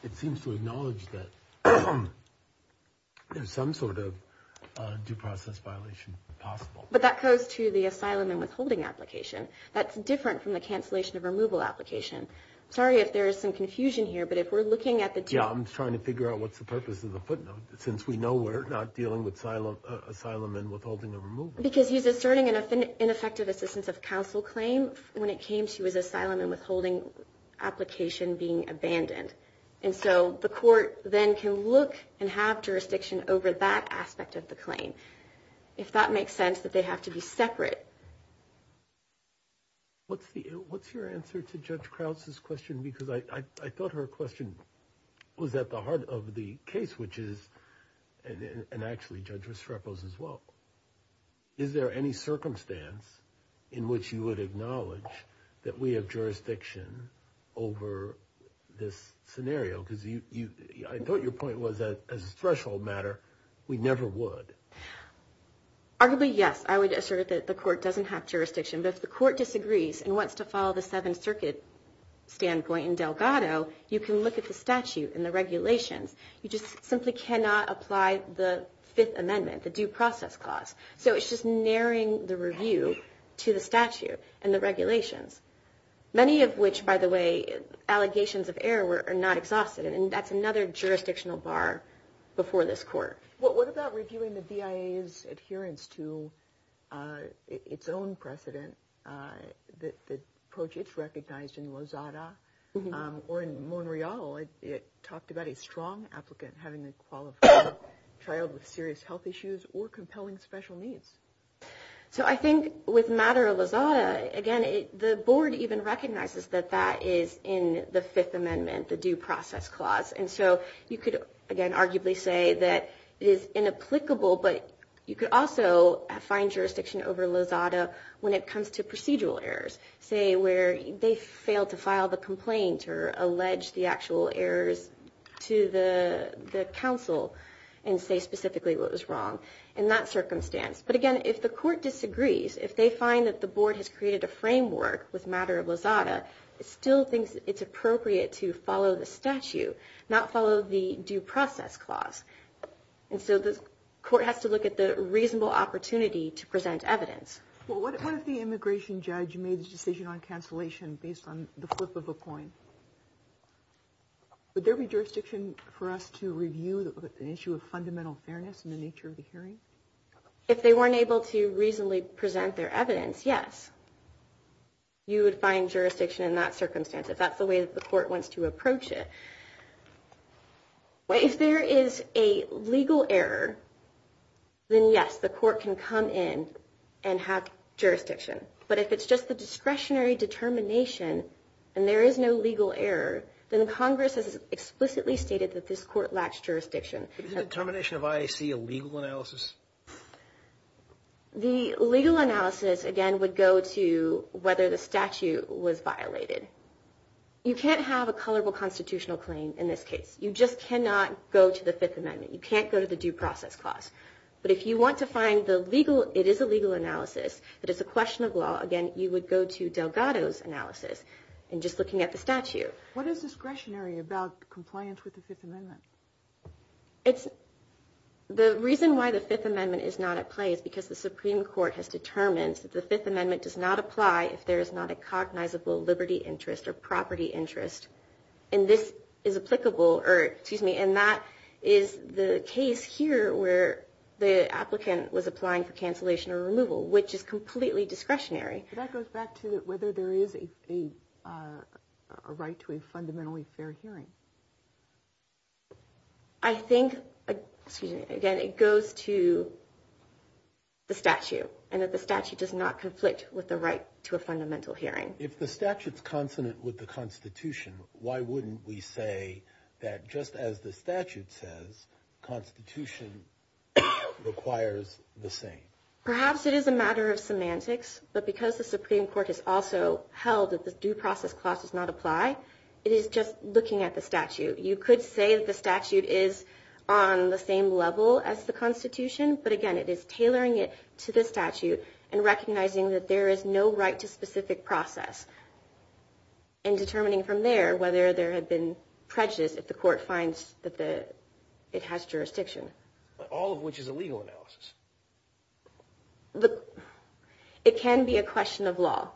It seems to acknowledge that there's some sort of due process violation possible. But that goes to the asylum and withholding application. That's different from the cancellation of removal application. Sorry if there is some confusion here, but if we're looking at the- Yeah, I'm trying to figure out what's the purpose of the footnote, since we know we're not dealing with asylum and withholding or removal. Because he's asserting an ineffective assistance of counsel claim when it came to his asylum and withholding application being abandoned. And so the court then can look and have jurisdiction over that aspect of the claim, if that makes sense, that they have to be separate. What's your answer to Judge Krauts' question? Because I thought her question was at the heart of the case, which is- and, actually, Judge Viscerepos as well. Is there any circumstance in which you would acknowledge that we have jurisdiction over this scenario? Because I thought your point was that, as a threshold matter, we never would. Arguably, yes. I would assert that the court doesn't have jurisdiction. But if the court disagrees and wants to follow the Seventh Circuit standpoint in Delgado, you can look at the statute and the regulations. You just simply cannot apply the Fifth Amendment, the due process clause. So it's just narrowing the review to the statute and the regulations. Many of which, by the way, allegations of error are not exhausted, and that's another jurisdictional bar before this court. What about reviewing the BIA's adherence to its own precedent that, quote, it's recognized in Lozada or in Monreal? It talked about a strong applicant having a qualified child with serious health issues or compelling special needs. So I think with matter of Lozada, again, the board even recognizes that that is in the Fifth Amendment, the due process clause. And so you could, again, arguably say that it is inapplicable, but you could also find jurisdiction over Lozada when it comes to procedural errors. Say where they failed to file the complaint or allege the actual errors to the council and say specifically what was wrong in that circumstance. But, again, if the court disagrees, if they find that the board has created a framework with matter of Lozada, it still thinks it's appropriate to follow the statute, not follow the due process clause. And so the court has to look at the reasonable opportunity to present evidence. Well, what if the immigration judge made the decision on cancellation based on the flip of a coin? Would there be jurisdiction for us to review an issue of fundamental fairness in the nature of the hearing? If they weren't able to reasonably present their evidence, yes. You would find jurisdiction in that circumstance if that's the way that the court wants to approach it. If there is a legal error, then, yes, the court can come in and have jurisdiction. But if it's just a discretionary determination and there is no legal error, then Congress has explicitly stated that this court lacks jurisdiction. Is the determination of IAC a legal analysis? The legal analysis, again, would go to whether the statute was violated. You can't have a colorable constitutional claim in this case. You just cannot go to the Fifth Amendment. You can't go to the due process clause. But if you want to find the legal, it is a legal analysis, but it's a question of law, again, you would go to Delgado's analysis and just looking at the statute. What is discretionary about compliance with the Fifth Amendment? The reason why the Fifth Amendment is not in place is because the Supreme Court has determined that the Fifth Amendment does not apply if there is not a cognizable liberty interest or property interest. And that is the case here where the applicant was applying for cancellation or removal, which is completely discretionary. That goes back to whether there is a right to a fundamentally fair hearing. I think, again, it goes to the statute and that the statute does not conflict with the right to a fundamental hearing. If the statute is confident with the Constitution, why wouldn't we say that just as the statute says, Constitution requires the same? Perhaps it is a matter of semantics, but because the Supreme Court has also held that the due process clause does not apply, you could say that the statute is on the same level as the Constitution, but again, it is tailoring it to the statute and recognizing that there is no right to specific process and determining from there whether there had been prejudice if the court finds that it has jurisdiction. All of which is a legal analysis. It can be a question of law.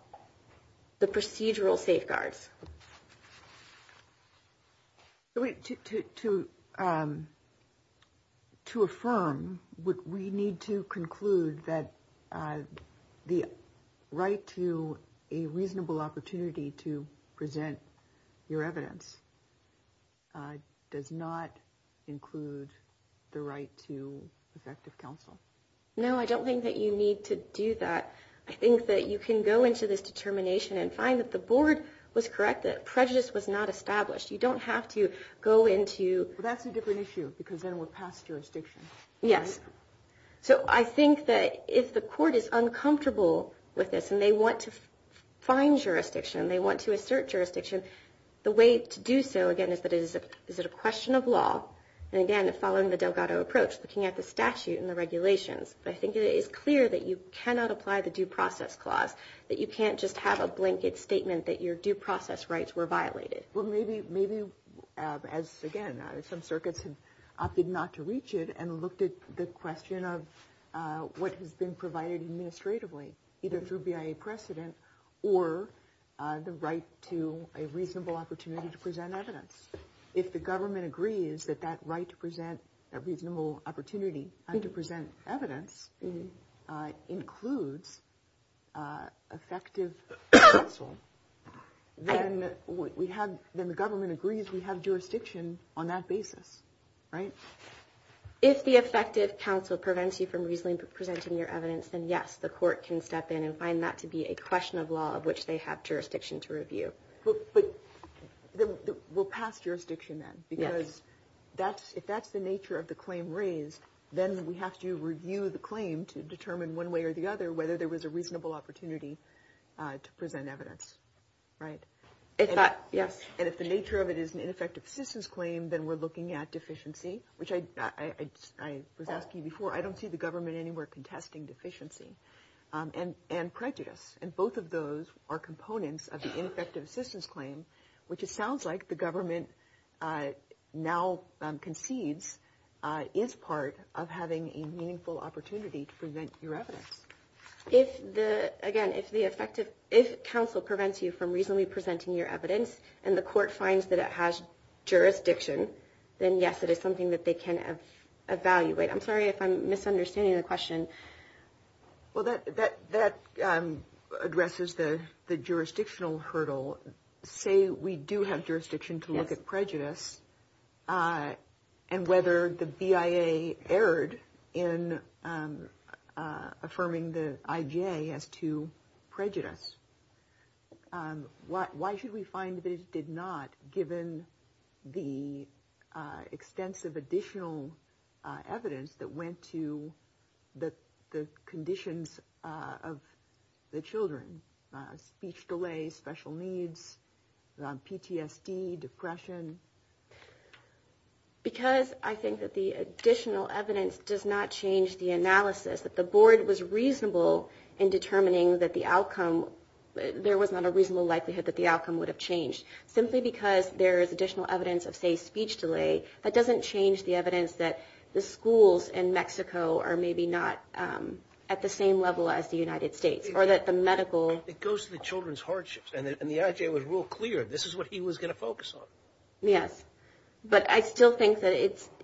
The procedural safeguards. To affirm, we need to conclude that the right to a reasonable opportunity to present your evidence does not include the right to effective counsel. No, I don't think that you need to do that. I think that you can go into this determination and find that the board was correct, that prejudice was not established. You don't have to go into... That's a different issue, because then we're past jurisdiction. Yes. So I think that if the court is uncomfortable with this and they want to find jurisdiction, they want to assert jurisdiction, the way to do so, again, is that it is a question of law. And again, it's following the Delgado approach, looking at the statute and the regulations. But I think it is clear that you cannot apply the Due Process Clause, that you can't just have a blanket statement that your due process rights were violated. Well, maybe, as again, some circuits have opted not to reach it and looked at the question of what has been provided administratively, either through BIA precedent or the right to a reasonable opportunity to present evidence. If the government agrees that that right to present a reasonable opportunity and to present evidence includes effective counsel, then the government agrees we have jurisdiction on that basis, right? If the effective counsel prevents you from reasonably presenting your evidence, then yes, the court can step in and find that to be a question of law of which they have jurisdiction to review. But we'll pass jurisdiction then because if that's the nature of the claim raised, then we have to review the claim to determine one way or the other whether there was a reasonable opportunity to present evidence, right? And if the nature of it is an ineffective assistance claim, then we're looking at deficiency, which I was asking you before. I don't see the government anywhere contesting deficiency. And prejudice. And both of those are components of the ineffective assistance claim, which it sounds like the government now concedes is part of having a meaningful opportunity to present your evidence. Again, if counsel prevents you from reasonably presenting your evidence and the court finds that it has jurisdiction, then yes, it is something that they can evaluate. I'm sorry if I'm misunderstanding your question. Well, that addresses the jurisdictional hurdle. Say we do have jurisdiction to look at prejudice and whether the BIA erred in affirming the IJ as to prejudice. Why should we find that it did not given the extensive additional evidence that went to the conditions of the children, speech delay, special needs, PTSD, depression? Because I think that the additional evidence does not change the analysis. If the board was reasonable in determining that the outcome, there was not a reasonable likelihood that the outcome would have changed. Simply because there is additional evidence of, say, speech delay, that doesn't change the evidence that the schools in Mexico are maybe not at the same level as the United States or that the medical. It goes to the children's hardships. And the IJ was real clear this is what he was going to focus on. Yes. But I still think that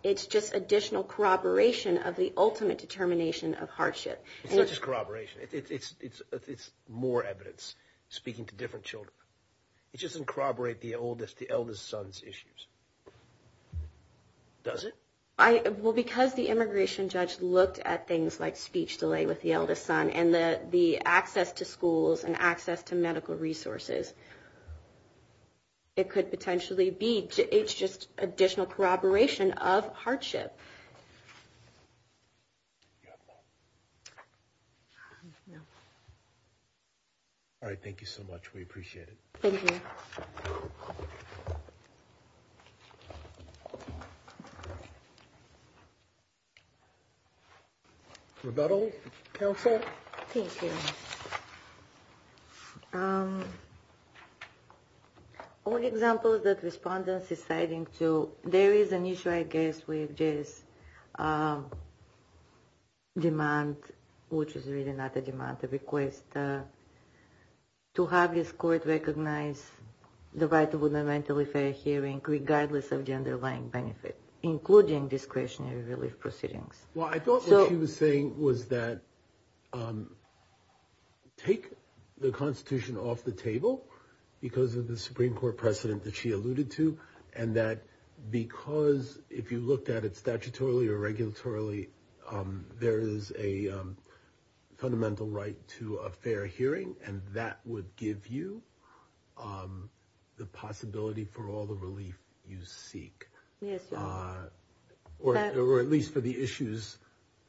it's just additional corroboration of the ultimate determination of hardship. It's not just corroboration. It's more evidence speaking to different children. It doesn't corroborate the eldest son's issues, does it? Well, because the immigration judge looked at things like speech delay with the eldest son and the access to schools and access to medical resources. It could potentially be. It's just additional corroboration of hardship. All right. Thank you so much. We appreciate it. Thank you. Thank you. Is that all? No, sir. Thank you. One example that respondents are citing, too, there is an issue, I guess, with this demand, which is really not a demand, a request. It's a request to have this court recognize the rights of the mentally fair hearing, regardless of the underlying benefit, including discretionary release proceedings. Well, I thought what she was saying was that take the Constitution off the table, because of the Supreme Court precedent that she alluded to, and that because, if you looked at it would give you the possibility for all the relief you seek, or at least for the issues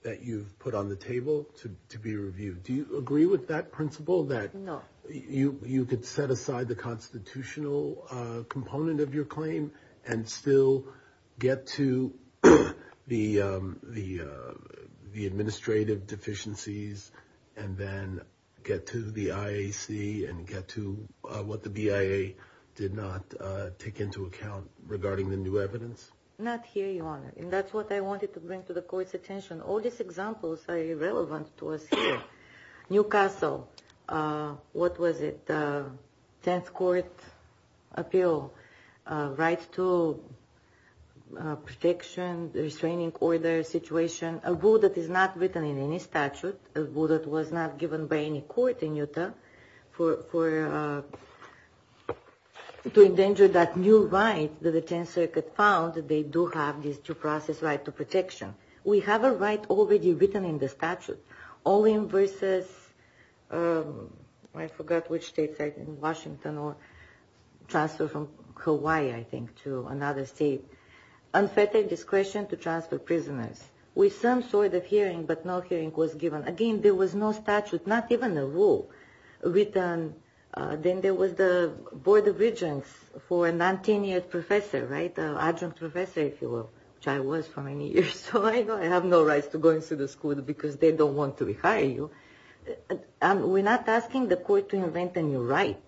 that you've put on the table to be reviewed. Do you agree with that principle? No. You could set aside the constitutional component of your claim and still get to the administrative deficiencies and then get to the IAC and get to what the BIA did not take into account regarding the new evidence? Not here, Your Honor. And that's what I wanted to bring to the Court's attention. All these examples are irrelevant to us here. New Castle, what was it? Tenth Court appeal, rights to protection, restraining order situation, a rule that is not written in any statute, a rule that was not given by any court in Utah to endanger that new right that the Tenth Circuit found, that they do have these two process rights to protection. We have a right already written in the statute. All invoices, I forgot which states, in Washington or transfer from Hawaii, I think, to another state, unfettered discretion to transfer prisoners. With some sort of hearing, but no hearing was given. Again, there was no statute, not even a rule written. Then there was the Board of Regents for a 19-year professor, right? Adjunct professor, if you will, which I was for many years. So I have no right to go into the school because they don't want to rehire you. We're not asking the Court to invent a new right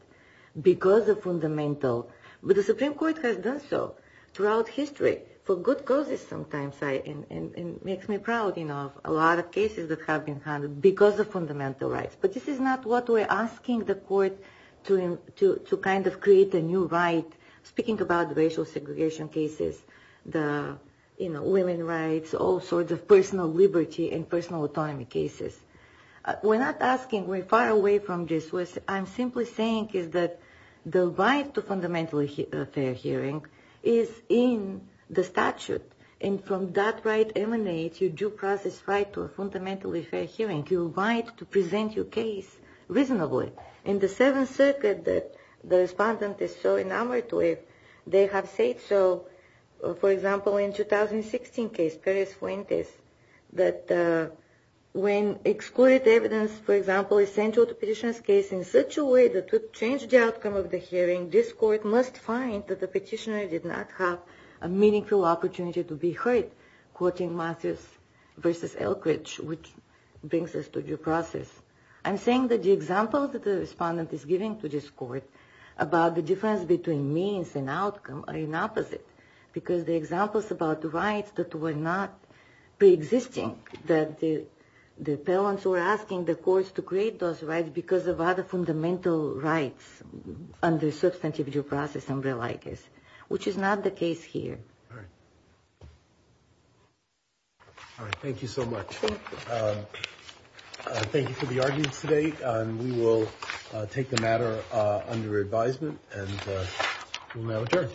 because of fundamental. But the Supreme Court has done so throughout history for good causes sometimes, right? And it makes me proud, you know, a lot of cases that have been handled because of fundamental rights. But this is not what we're asking the Court to kind of create a new right, speaking about the racial segregation cases, the, you know, women rights, also the personal liberty and personal autonomy cases. We're not asking. We're far away from this. What I'm simply saying is that the right to fundamentally fair hearing is in the statute. And from that right emanates your due process right to a fundamentally fair hearing, your right to present your case reasonably. In the Seventh Circuit that the respondent is so enamored with, they have said so, for example, in the 2016 case, Perry-Flint case, that when excluded evidence, for example, is central to petitioner's case in such a way that would change the outcome of the hearing, this Court must find that the petitioner did not have a meaningful opportunity to be heard, quoting Matthews v. Elkridge, which brings us to due process. I'm saying that the example that the respondent is giving to this Court about the difference between means and outcome are inopposite, because the example is about the rights that were not preexisting, that the appellants were asking the Courts to create those rights because of other fundamental rights under the substantive due process umbrella like this, which is not the case here. All right. All right. Thank you so much. Thank you. Thank you for the argument today, and we will take the matter under advisement, and we'll now adjourn. Thank you. Thank you. Thank you. Thank you. Thank you. Thank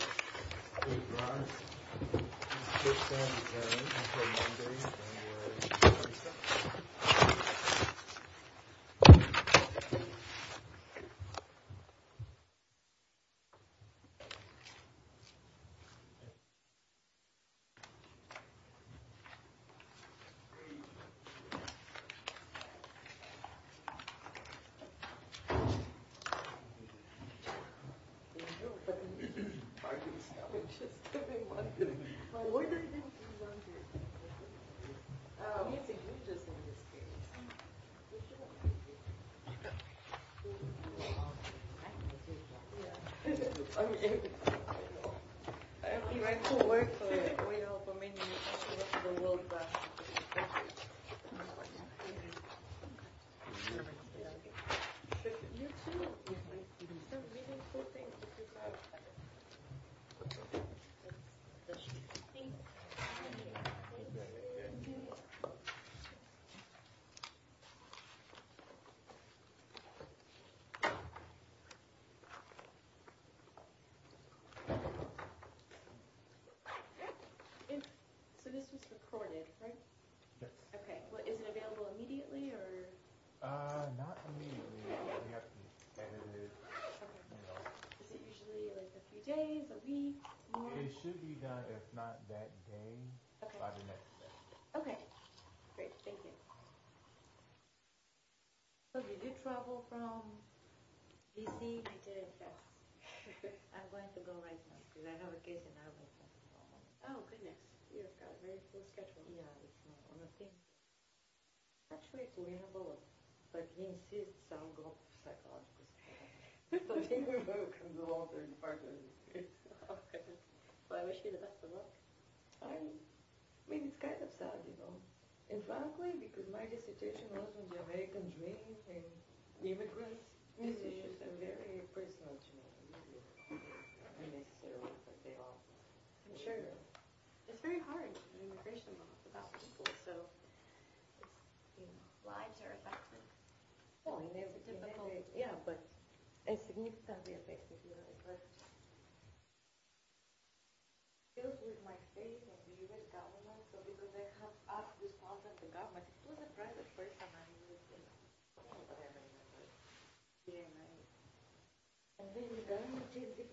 you. So this is recorded, right? Okay. Is it available immediately? Uh, not immediately. It's going to have to be submitted. And it usually is a few days or weeks? It should be, if not that day, by the next day. Okay. Great. Thank you. Thank you. Okay. Okay. Great. Thank you. Thank you. Great. Thank you.